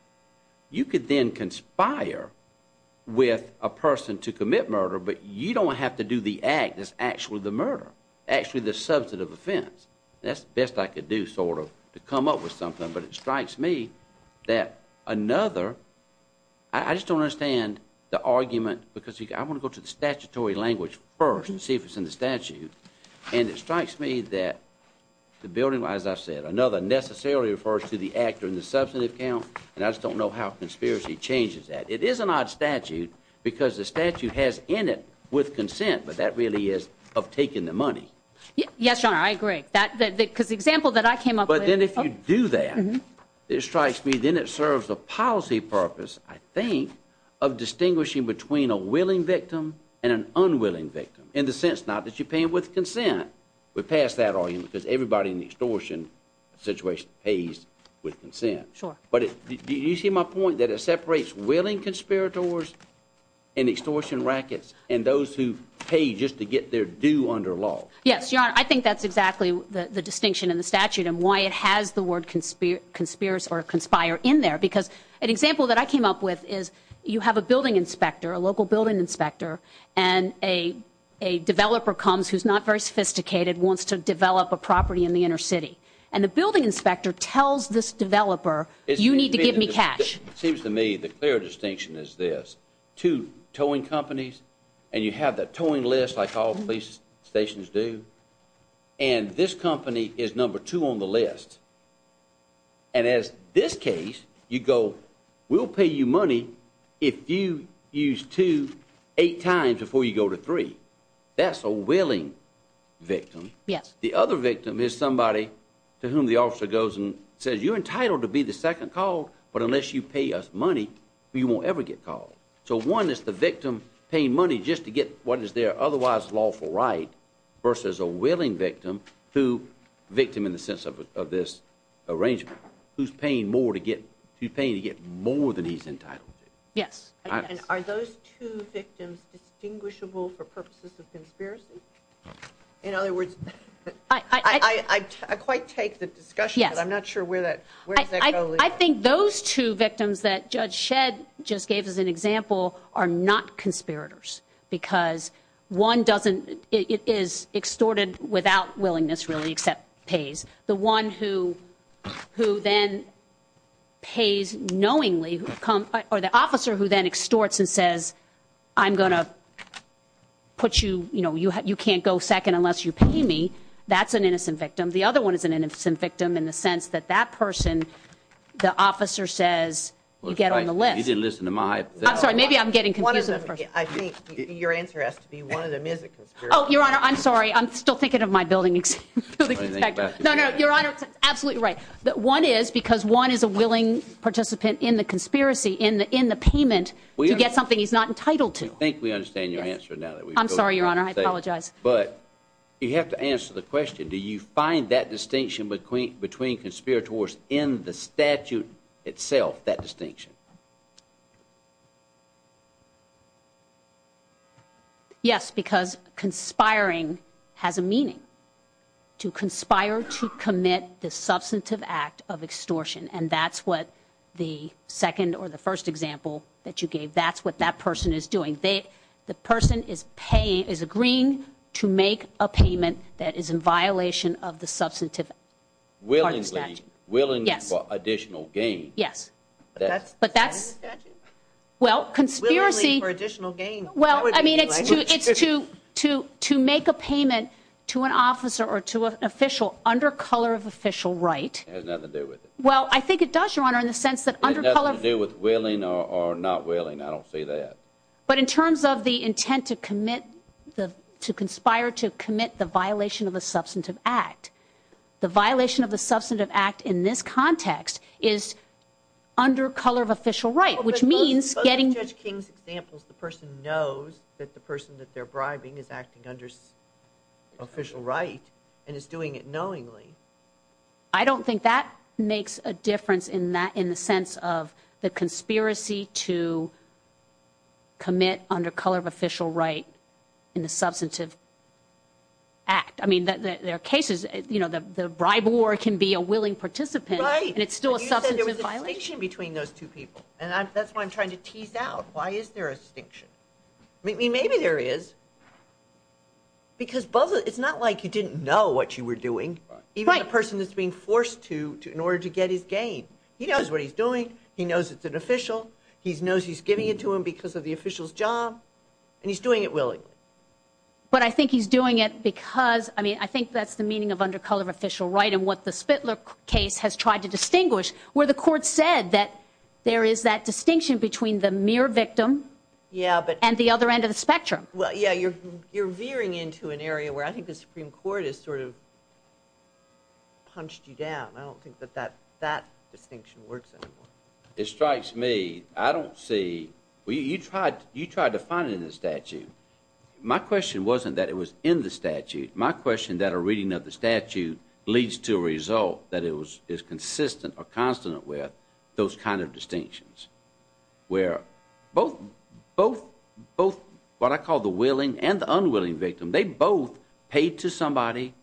you could then conspire with a person to commit murder, but you don't have to do the act that's actually the murder, actually the substantive offense. That's the best I could do sort of to come up with something, but it strikes me that another ---- I just don't understand the argument because I want to go to the statutory language first and see if it's in the statute. And it strikes me that the building, as I said, another necessarily refers to the actor in the substantive count, and I just don't know how conspiracy changes that. It is an odd statute because the statute has in it with consent, but that really is of taking the money. Yes, Your Honor, I agree. Because the example that I came up with ---- But then if you do that, it strikes me then it serves a policy purpose, I think, of distinguishing between a willing victim and an unwilling victim in the sense not that you pay them with consent. We pass that argument because everybody in the extortion situation pays with consent. Sure. But do you see my point that it separates willing conspirators and extortion rackets and those who pay just to get their due under law? Yes, Your Honor. I think that's exactly the distinction in the statute and why it has the word conspire in there because an example that I came up with is you have a building inspector, a local building inspector, and a developer comes who's not very sophisticated, wants to develop a property in the inner city. And the building inspector tells this developer, you need to give me cash. It seems to me the clear distinction is this. Two towing companies, and you have that towing list like all police stations do, and this company is number two on the list. And as this case, you go, we'll pay you money if you use two eight times before you go to three. That's a willing victim. Yes. The other victim is somebody to whom the officer goes and says, you're entitled to be the second call, but unless you pay us money, you won't ever get called. So one is the victim paying money just to get what is their otherwise lawful right versus a willing victim who, victim in the sense of this arrangement, who's paying to get more than he's entitled to. Yes. And are those two victims distinguishable for purposes of conspiracy? In other words, I quite take the discussion, but I'm not sure where that goes. I think those two victims that Judge Shedd just gave as an example are not conspirators because one doesn't, it is extorted without willingness really except pays. The one who then pays knowingly or the officer who then extorts and says, I'm going to put you, you know, you can't go second unless you pay me, that's an innocent victim. The other one is an innocent victim in the sense that that person, the officer says, you get on the list. You didn't listen to my hypothesis. I'm sorry, maybe I'm getting confused. I think your answer has to be one of them is a conspirator. Oh, Your Honor, I'm sorry. I'm still thinking of my building inspector. No, no, Your Honor, absolutely right. One is because one is a willing participant in the conspiracy, in the payment, to get something he's not entitled to. I think we understand your answer now. I'm sorry, Your Honor. I apologize. But you have to answer the question. Do you find that distinction between conspirators in the statute itself, that distinction? Yes, because conspiring has a meaning. To conspire to commit the substantive act of extortion, and that's what the second or the first example that you gave, that's what that person is doing. The person is agreeing to make a payment that is in violation of the substantive part of the statute. Willingly. Yes. Willingly for additional gain. Yes. But that's... Willingly for additional gain. Well, I mean, it's to make a payment to an officer or to an official under color of official right. It has nothing to do with it. Well, I think it does, Your Honor, in the sense that under color... It has nothing to do with willing or not willing. I don't see that. But in terms of the intent to commit the... To conspire to commit the violation of a substantive act, the violation of the substantive act in this context is under color of official right, which means getting... But in Judge King's examples, the person knows that the person that they're bribing is acting under official right and is doing it knowingly. I don't think that makes a difference in the sense of the conspiracy to commit under color of official right in the substantive act. I mean, there are cases, you know, the briber can be a willing participant. Right. And it's still a substantive violation. But you said there was a distinction between those two people. And that's what I'm trying to tease out. Why is there a distinction? I mean, maybe there is. Because both of... It's not like you didn't know what you were doing. Right. Even the person that's being forced to in order to get his gain. He knows what he's doing. He knows it's an official. He knows he's giving it to him because of the official's job. And he's doing it willingly. But I think he's doing it because... I mean, I think that's the meaning of under color of official right and what the Spitler case has tried to distinguish, where the court said that there is that distinction between the mere victim... Yeah, but... And the other end of the spectrum. Well, yeah, you're veering into an area where I think the Supreme Court has sort of punched you down. I don't think that that distinction works anymore. It strikes me. I don't see... Well, you tried to find it in the statute. My question wasn't that it was in the statute. My question that a reading of the statute leads to a result that is consistent or consonant with those kind of distinctions. Where both what I call the willing and the unwilling victim, they both paid to somebody,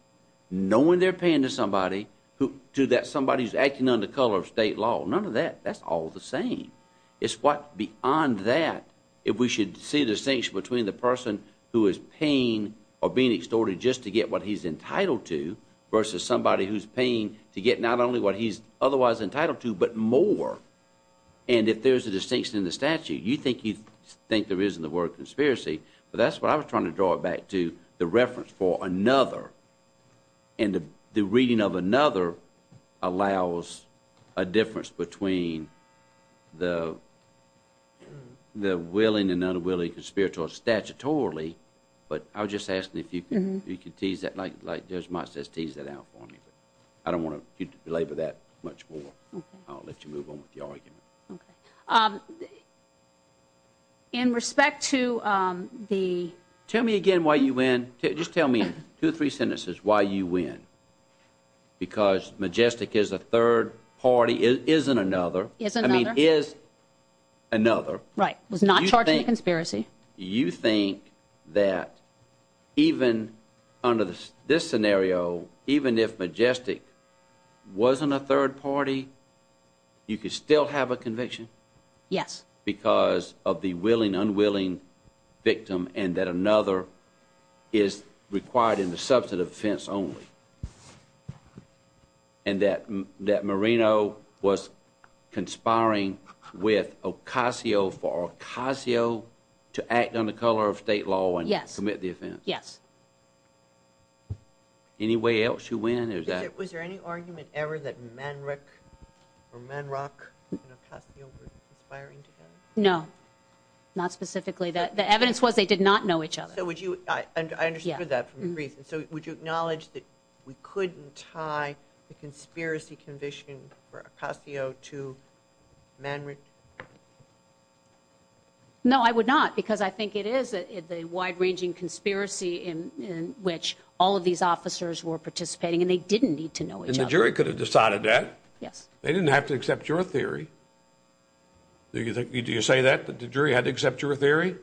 knowing they're paying to somebody, to that somebody who's acting under color of state law. None of that. That's all the same. It's what beyond that, if we should see the distinction between the person who is paying or being extorted just to get what he's entitled to versus somebody who's paying to get not only what he's otherwise entitled to, but more. And if there's a distinction in the statute, you think there is in the word conspiracy. But that's what I was trying to draw back to, the reference for another. And the reading of another allows a difference between the willing and unwilling conspiratorial statutorily. But I was just asking if you could tease that, like Judge Mott says, tease that out for me. I don't want to belabor that much more. I'll let you move on with your argument. Okay. In respect to the... Tell me again why you win. Just tell me two or three sentences why you win. Because Majestic is a third party, isn't another. Isn't another. I mean, is another. Right. Was not charged with conspiracy. You think that even under this scenario, even if Majestic wasn't a third party, you could still have a conviction? Yes. Because of the willing, unwilling victim and that another is required in the substantive offense only. And that Marino was conspiring with Ocasio for Ocasio to act on the color of state law and commit the offense. Yes. Yes. Any way else you win? Was there any argument ever that Manrich or Manrock and Ocasio were conspiring together? No. Not specifically. The evidence was they did not know each other. I understood that from the brief. So would you acknowledge that we couldn't tie the conspiracy conviction for Ocasio to Manrich? No, I would not. Because I think it is a wide ranging conspiracy in which all of these officers were participating and they didn't need to know each other. And the jury could have decided that. Yes. They didn't have to accept your theory. Do you think, do you say that the jury had to accept your theory?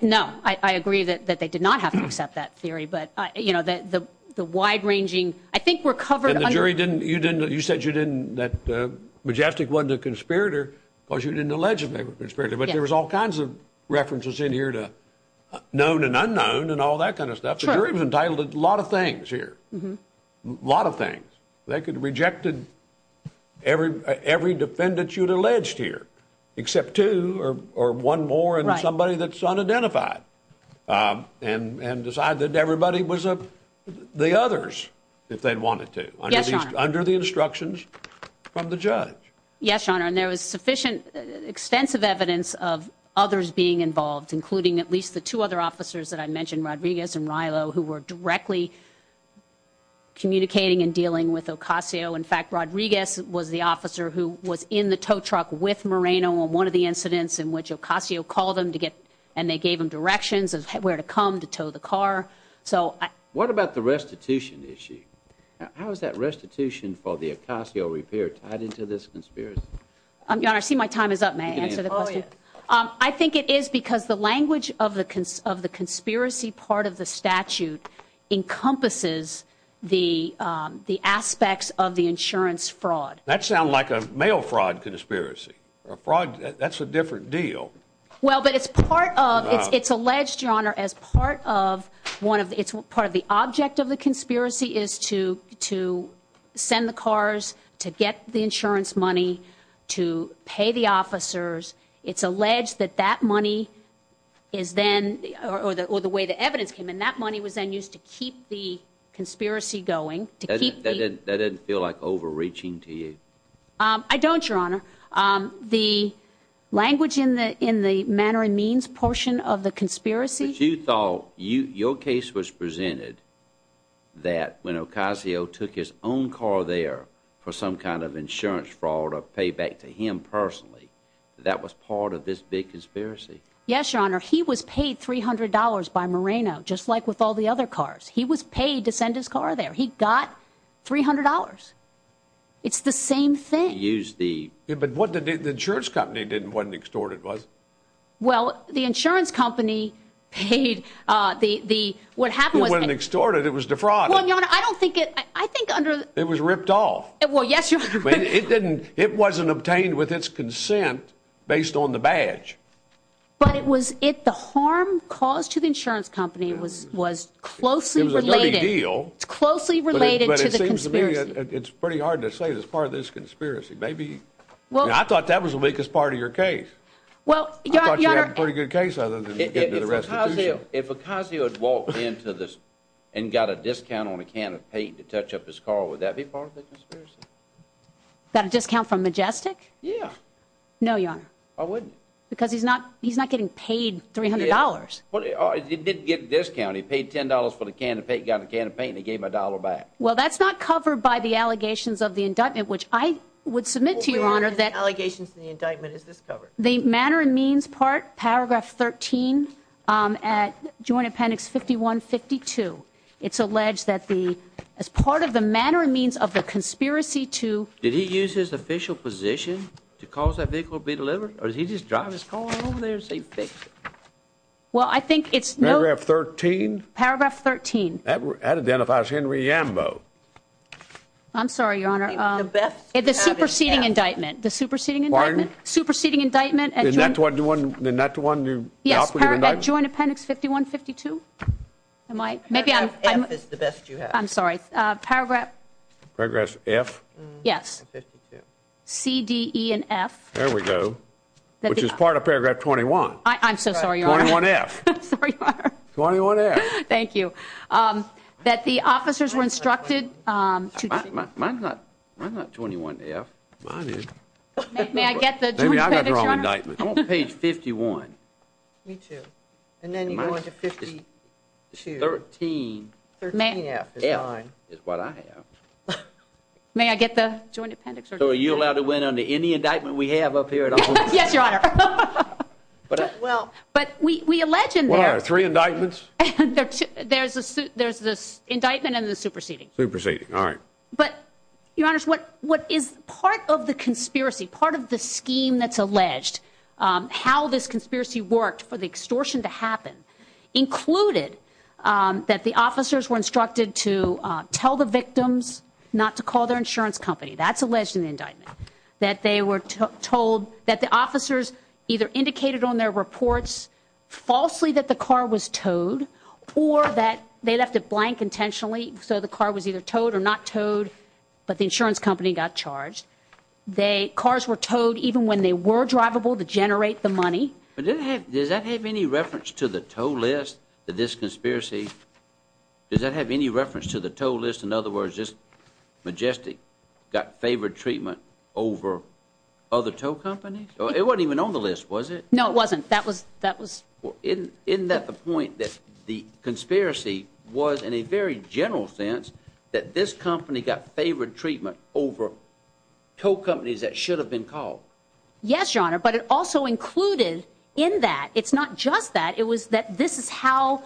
No, I agree that they did not have to accept that theory. But, you know, the wide ranging, I think we're covered under. And the jury didn't, you didn't, you said you didn't, that Majestic wasn't a conspirator because you didn't allege they were a conspirator. But there was all kinds of references in here to known and unknown and all that kind of stuff. The jury was entitled to a lot of things here. A lot of things. They could have rejected every, every defendant you had alleged here, except two or one more and somebody that's unidentified. And decide that everybody was the others if they wanted to. Under the instructions from the judge. Yes, your honor. And there was sufficient, extensive evidence of others being involved, including at least the two other officers that I mentioned, Rodriguez and Rilo, who were directly communicating and dealing with Ocasio. In fact, Rodriguez was the officer who was in the tow truck with Moreno on one of the incidents in which Ocasio called him to get, and they gave him directions of where to come to tow the car. So. What about the restitution issue? How is that restitution for the Ocasio repair tied into this conspiracy? Your honor, I see my time is up. May I answer the question? I think it is because the language of the conspiracy part of the statute encompasses the aspects of the insurance fraud. That sounds like a mail fraud conspiracy. A fraud, that's a different deal. Well, but it's part of it's alleged, your honor, as part of one of its part of the object of the conspiracy is to to send the cars to get the insurance money to pay the officers. It's alleged that that money is then or the way the evidence came in. That money was then used to keep the conspiracy going to keep that didn't feel like overreaching to you. I don't, your honor. The language in the in the manner and means portion of the conspiracy. You thought you your case was presented that when Ocasio took his own car there for some kind of insurance fraud or payback to him personally, that was part of this big conspiracy. Yes, your honor. He was paid three hundred dollars by Moreno, just like with all the other cars. He was paid to send his car there. He got three hundred dollars. It's the same thing. But what did the insurance company didn't want to extort? It was. Well, the insurance company paid the. What happened was extorted. It was defrauded. I don't think it. I think it was ripped off. Well, yes. It didn't. It wasn't obtained with its consent based on the badge. But it was it the harm caused to the insurance company was was closely related deal. It's closely related. It's pretty hard to say it's part of this conspiracy. Maybe. Well, I thought that was the biggest part of your case. Well, yeah, yeah. Pretty good case. Other than the rest of you. If Ocasio had walked into this and got a discount on a can of paint to touch up his car, would that be part of it? Got a discount from Majestic. Yeah. No, your honor. I wouldn't. Because he's not he's not getting paid three hundred dollars. But he did get this county paid ten dollars for the can of paint got a can of paint. He gave my dollar back. Well, that's not covered by the allegations of the indictment, which I would submit to your honor. That allegations in the indictment is this covered the manner and means part. Paragraph 13 at Joint Appendix 51 52. It's alleged that the as part of the manner and means of the conspiracy to. Did he use his official position to cause that vehicle to be delivered? Or did he just drive his car over there and say, fix it? Well, I think it's paragraph 13. That identifies Henry Ambo. I'm sorry, your honor. The best at the superseding indictment, the superseding and superseding indictment. And that's what you want. And that's one. Yes. Joint Appendix 51 52. I might maybe I'm the best you have. I'm sorry. Paragraph. Progress F. Yes. C, D, E and F. There we go. Which is part of paragraph 21. I'm so sorry. You're on F. Sorry. 21. You're on F. Thank you. That the officers were instructed to. Mine's not 21 F. Mine is. May I get the Joint Appendix? I'm on page 51. Me too. And then you go into 52. 13. 13 F is mine. Is what I have. May I get the Joint Appendix? So are you allowed to win under any indictment we have up here at all? Yes, your honor. But. Well. But we allege in there. Three indictments. There's a suit. There's this indictment and the superseding superseding. All right. But your honors, what what is part of the conspiracy? Part of the scheme that's alleged how this conspiracy worked for the extortion to happen included that the officers were instructed to tell the victims not to call their insurance company. That's alleged in the indictment that they were told that the officers either indicated on their reports falsely that the car was towed or that they left it blank intentionally. So the car was either towed or not towed. But the insurance company got charged. They cars were towed even when they were drivable to generate the money. But does that have any reference to the toll list that this conspiracy. Does that have any reference to the toll list? In other words, just majestic. Got favored treatment over other tow companies. It wasn't even on the list, was it? No, it wasn't. That was that was in. Isn't that the point that the conspiracy was in a very general sense that this company got favored treatment over tow companies that should have been called? Yes, your honor. But it also included in that. It's not just that. It was that this is how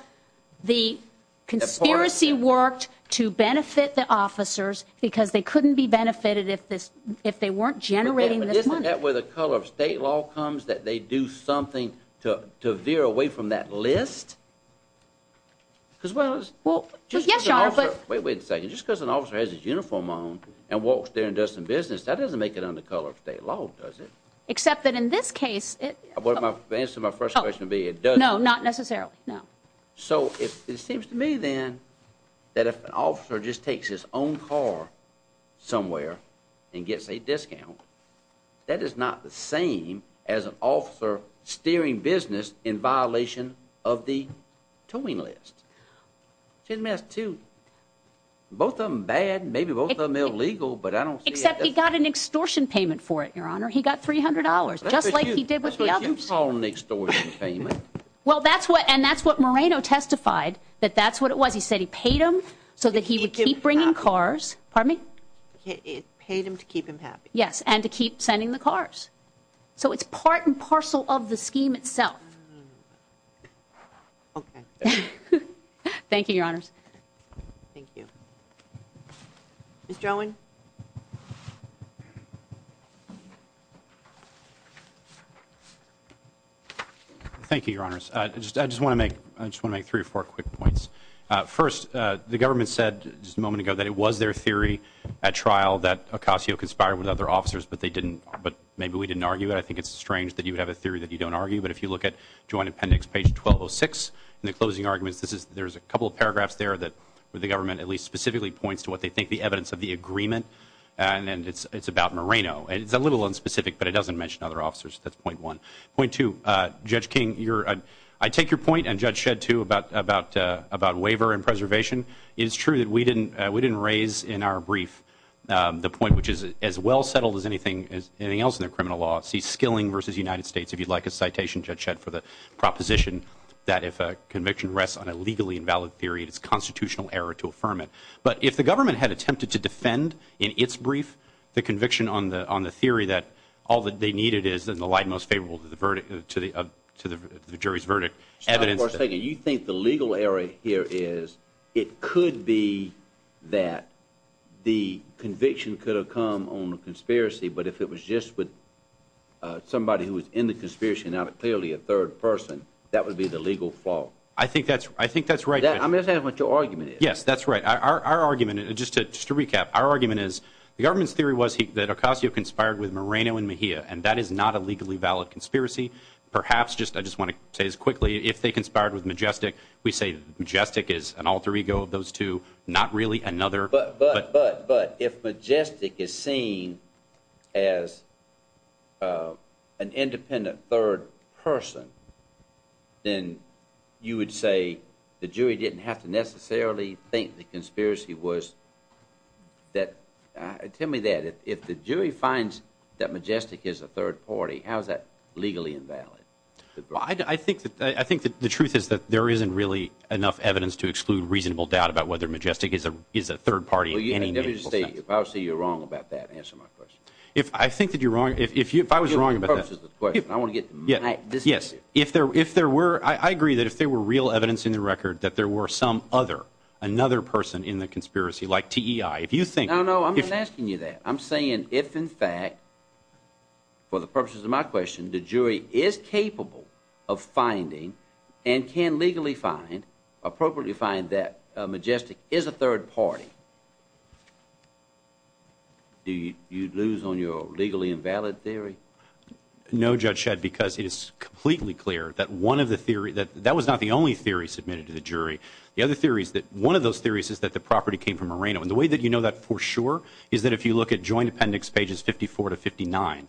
the conspiracy worked to benefit the officers because they couldn't be benefited if this if they weren't generating this money. Isn't that where the color of state law comes that they do something to to veer away from that list? Because, well, as well. Yes, your honor. But wait, wait a second. Just because an officer has his uniform on and walks there and does some business, that doesn't make it on the color of state law, does it? Except that in this case. But my answer to my first question would be it does. No, not necessarily. No. So it seems to me, then, that if an officer just takes his own car somewhere and gets a discount, that is not the same as an officer steering business in violation of the towing list. It's a mess, too. Both of them bad, maybe both of them illegal, but I don't. Except he got an extortion payment for it, your honor. He got three hundred dollars, just like he did with the others. That's what you call an extortion payment. Well, that's what and that's what Moreno testified, that that's what it was. He said he paid him so that he would keep bringing cars. Pardon me? He paid him to keep him happy. Yes. And to keep sending the cars. So it's part and parcel of the scheme itself. Okay. Thank you, your honors. Thank you. Ms. Jolin? Thank you, your honors. I just I just want to make I just want to make three or four quick points. First, the government said just a moment ago that it was their theory at trial that Ocasio conspired with other officers, but they didn't. But maybe we didn't argue it. I think it's strange that you would have a theory that you don't argue. But if you look at Joint Appendix page 1206, the closing arguments, this is there's a couple of paragraphs there that the government at least specifically points to what they think the evidence of the agreement. And it's it's about Moreno. And it's a little unspecific, but it doesn't mention other officers. That's point one. Point two, Judge King, you're I take your point and Judge Shedd, too, about about about waiver and preservation. It is true that we didn't we didn't raise in our brief the point, which is as well settled as anything else in the criminal law. See, Skilling versus United States. If you'd like a citation, Judge Shedd, for the proposition that if a conviction rests on a legally invalid theory, it's constitutional error to affirm it. But if the government had attempted to defend in its brief the conviction on the on the theory that all that they needed is in the light most favorable to the verdict to the to the jury's verdict evidence. You think the legal error here is it could be that the conviction could have come on a conspiracy. But if it was just with somebody who was in the conspiracy and not clearly a third person, that would be the legal flaw. I think that's I think that's right. Yes, that's right. Our argument, just to just to recap, our argument is the government's theory was that Ocasio conspired with Moreno and Mejia, and that is not a legally valid conspiracy. Perhaps just I just want to say as quickly, if they conspired with Majestic, we say Majestic is an alter ego of those two, not really another. But but but but if Majestic is seen as an independent third person, then you would say the jury didn't have to necessarily think the conspiracy was that. Tell me that if the jury finds that Majestic is a third party, how is that legally invalid? I think that I think that the truth is that there isn't really enough evidence to exclude reasonable doubt about whether Majestic is a is a third party. You never say you're wrong about that. If I think that you're wrong, if you if I was wrong about it, I want to get this. Yes. If there if there were I agree that if there were real evidence in the record that there were some other another person in the conspiracy like T.I. If you think I know I'm asking you that I'm saying if in fact. For the purposes of my question, the jury is capable of finding and can legally find appropriately find that Majestic is a third party. Do you lose on your legally invalid theory? No, Judge Shedd, because it is completely clear that one of the theory that that was not the only theory submitted to the jury. The other theory is that one of those theories is that the property came from Moreno. And the way that you know that for sure is that if you look at joint appendix pages fifty four to fifty nine,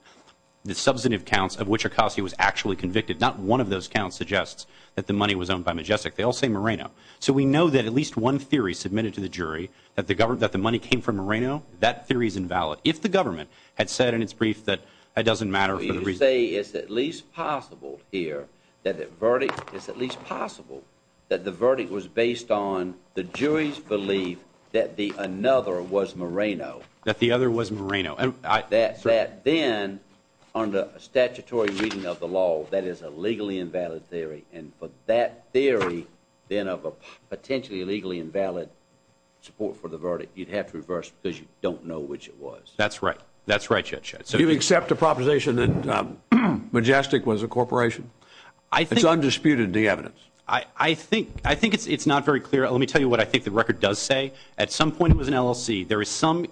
the substantive counts of which Ocasio was actually convicted, not one of those counts suggests that the money was owned by Majestic. They all say Moreno. So we know that at least one theory submitted to the jury that the government that the money came from Moreno. That theory is invalid. If the government had said in its brief that it doesn't matter. You say it's at least possible here that the verdict is at least possible that the verdict was based on the jury's belief that the another was Moreno, that the other was Moreno, that that then under a statutory reading of the law, that is a legally invalid theory. And for that theory, then of a potentially legally invalid support for the verdict, you'd have to reverse because you don't know which it was. That's right. That's right. So you accept the proposition that Majestic was a corporation. I think it's undisputed. The evidence I think I think it's not very clear. Let me tell you what I think the record does say. At some point, it was an LLC. There is some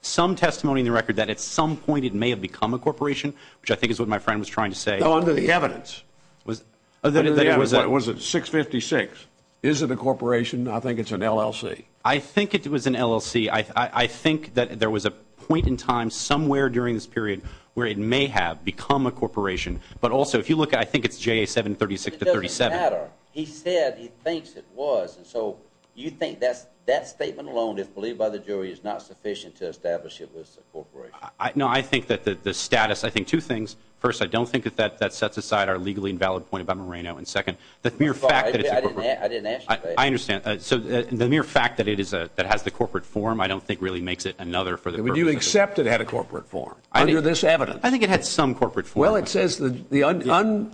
some testimony in the record that at some point it may have become a corporation, which I think is what my friend was trying to say. The evidence was that it was it was at six fifty six. Is it a corporation? I think it's an LLC. I think it was an LLC. I think that there was a point in time somewhere during this period where it may have become a corporation. But also, if you look, I think it's J.A. 736 to 37. He said he thinks it was. And so you think that's that statement alone, if believed by the jury, is not sufficient to establish it was a corporation. I know. I think that the status, I think two things. First, I don't think that that that sets aside our legally invalid point about Moreno. And second, the mere fact that I didn't ask, I understand. So the mere fact that it is a that has the corporate form, I don't think really makes it another for that. Would you accept it had a corporate form under this evidence? I think it had some corporate. Well, it says that the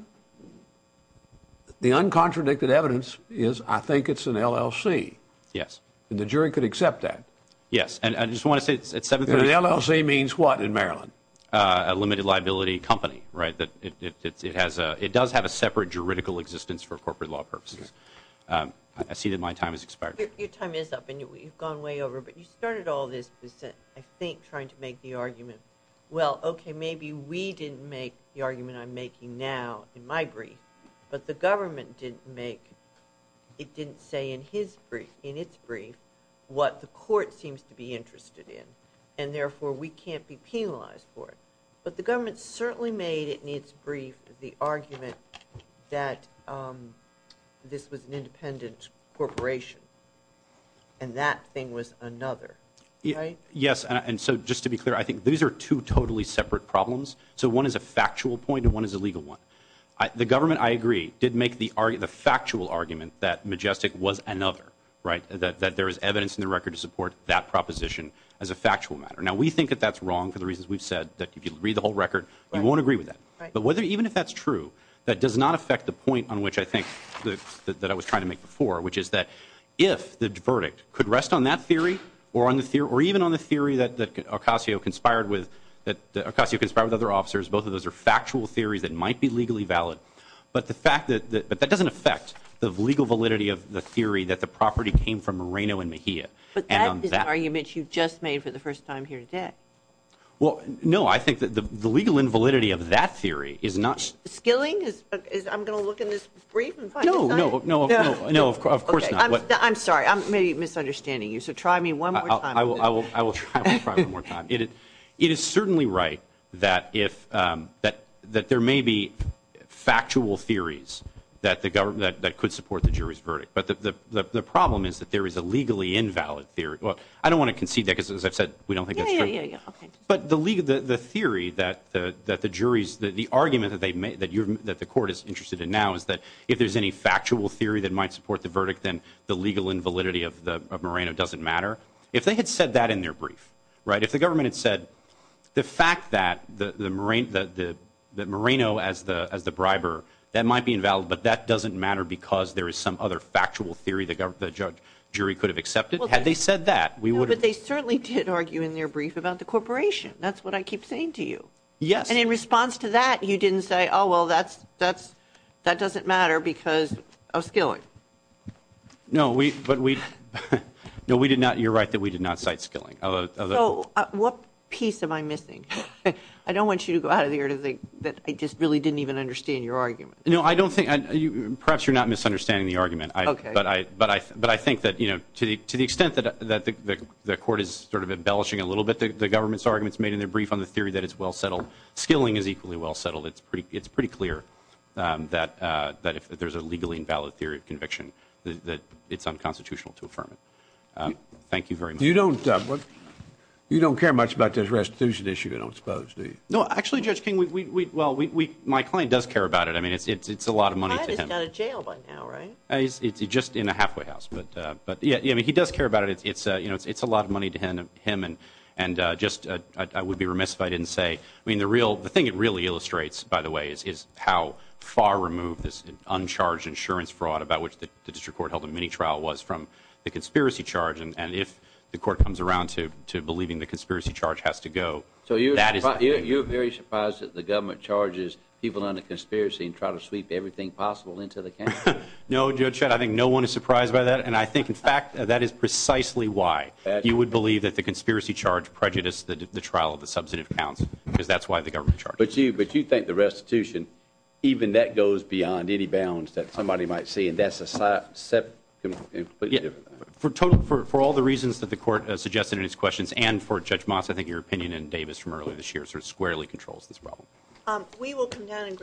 the uncontradicted evidence is I think it's an LLC. Yes. And the jury could accept that. Yes. And I just want to say it's seven. LLC means what in Maryland? A limited liability company. Right. That it has it does have a separate juridical existence for corporate law purposes. I see that my time is expired. Your time is up and you've gone way over. But you started all this. I think trying to make the argument. Well, OK. Maybe we didn't make the argument I'm making now in my brief. But the government didn't make it didn't say in his brief in its brief what the court seems to be interested in. And therefore we can't be penalized for it. But the government certainly made it in its brief. The argument that this was an independent corporation. And that thing was another. Yes. And so just to be clear, I think these are two totally separate problems. So one is a factual point and one is a legal one. The government, I agree, did make the argument, the factual argument that Majestic was another right that there is evidence in the record to support that proposition. As a factual matter. Now, we think that that's wrong for the reasons we've said, that if you read the whole record, you won't agree with that. But whether even if that's true, that does not affect the point on which I think that I was trying to make before, which is that if the verdict could rest on that theory or on the theory or even on the theory that Ocasio conspired with, that Ocasio conspired with other officers, both of those are factual theories that might be legally valid. But the fact that that doesn't affect the legal validity of the theory that the property came from Moreno and Mejia. But that is an argument you've just made for the first time here today. Well, no, I think that the legal invalidity of that theory is not. Skilling is I'm going to look in this brief. No, no, no, no. No, of course not. I'm sorry. I may be misunderstanding you. So try me one more time. I will. I will. I will try one more time. It is certainly right that if that that there may be factual theories that the government that could support the jury's verdict. But the problem is that there is a legally invalid theory. Well, I don't want to concede that because, as I've said, we don't think that's true. But the legal the theory that the that the jury's that the argument that they made that that the court is interested in now is that if there's any factual theory that might support the verdict, then the legal invalidity of the Moreno doesn't matter. If they had said that in their brief, right, if the government had said the fact that the Moreno that the Moreno as the as the briber, that might be invalid, but that doesn't matter because there is some other factual theory. The judge jury could have accepted had they said that we would. But they certainly did argue in their brief about the corporation. That's what I keep saying to you. Yes. And in response to that, you didn't say, oh, well, that's that's that doesn't matter because of skilling. No, we but we know we did not. You're right that we did not cite skilling. What piece am I missing? I don't want you to go out of here to think that I just really didn't even understand your argument. No, I don't think perhaps you're not misunderstanding the argument. But I but I but I think that, you know, to the to the extent that that the court is sort of embellishing a little bit, the government's arguments made in their brief on the theory that it's well settled. Skilling is equally well settled. It's pretty it's pretty clear that that if there's a legally invalid theory of conviction, that it's unconstitutional to affirm it. Thank you very much. You don't you don't care much about this restitution issue, I don't suppose. No, actually, Judge King, we well, we my client does care about it. I mean, it's it's it's a lot of money. He's got a jail right now, right? It's just in a halfway house. But but yeah, I mean, he does care about it. It's you know, it's it's a lot of money to him and him. And and just I would be remiss if I didn't say, I mean, the real the thing it really illustrates, by the way, is how far removed this uncharged insurance fraud about which the district court held a mini trial was from the conspiracy charge. And if the court comes around to to believing the conspiracy charge has to go. So you're you're very surprised that the government charges people under conspiracy and try to sweep everything possible into the. No, Judge, I think no one is surprised by that. And I think, in fact, that is precisely why you would believe that the conspiracy charge prejudice, that the trial of the substantive counts, because that's why the government charge. But you but you think the restitution, even that goes beyond any bounds that somebody might see. That's a set. But for total, for all the reasons that the court suggested in his questions and for Judge Moss, I think your opinion in Davis from earlier this year sort of squarely controls this problem. We will come down and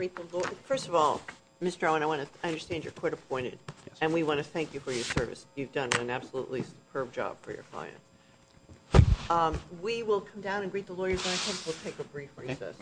first of all, Mr. Owen, I want to understand your court appointed. And we want to thank you for your service. You've done an absolutely superb job for your client. We will come down and greet the lawyers. I think we'll take a brief recess.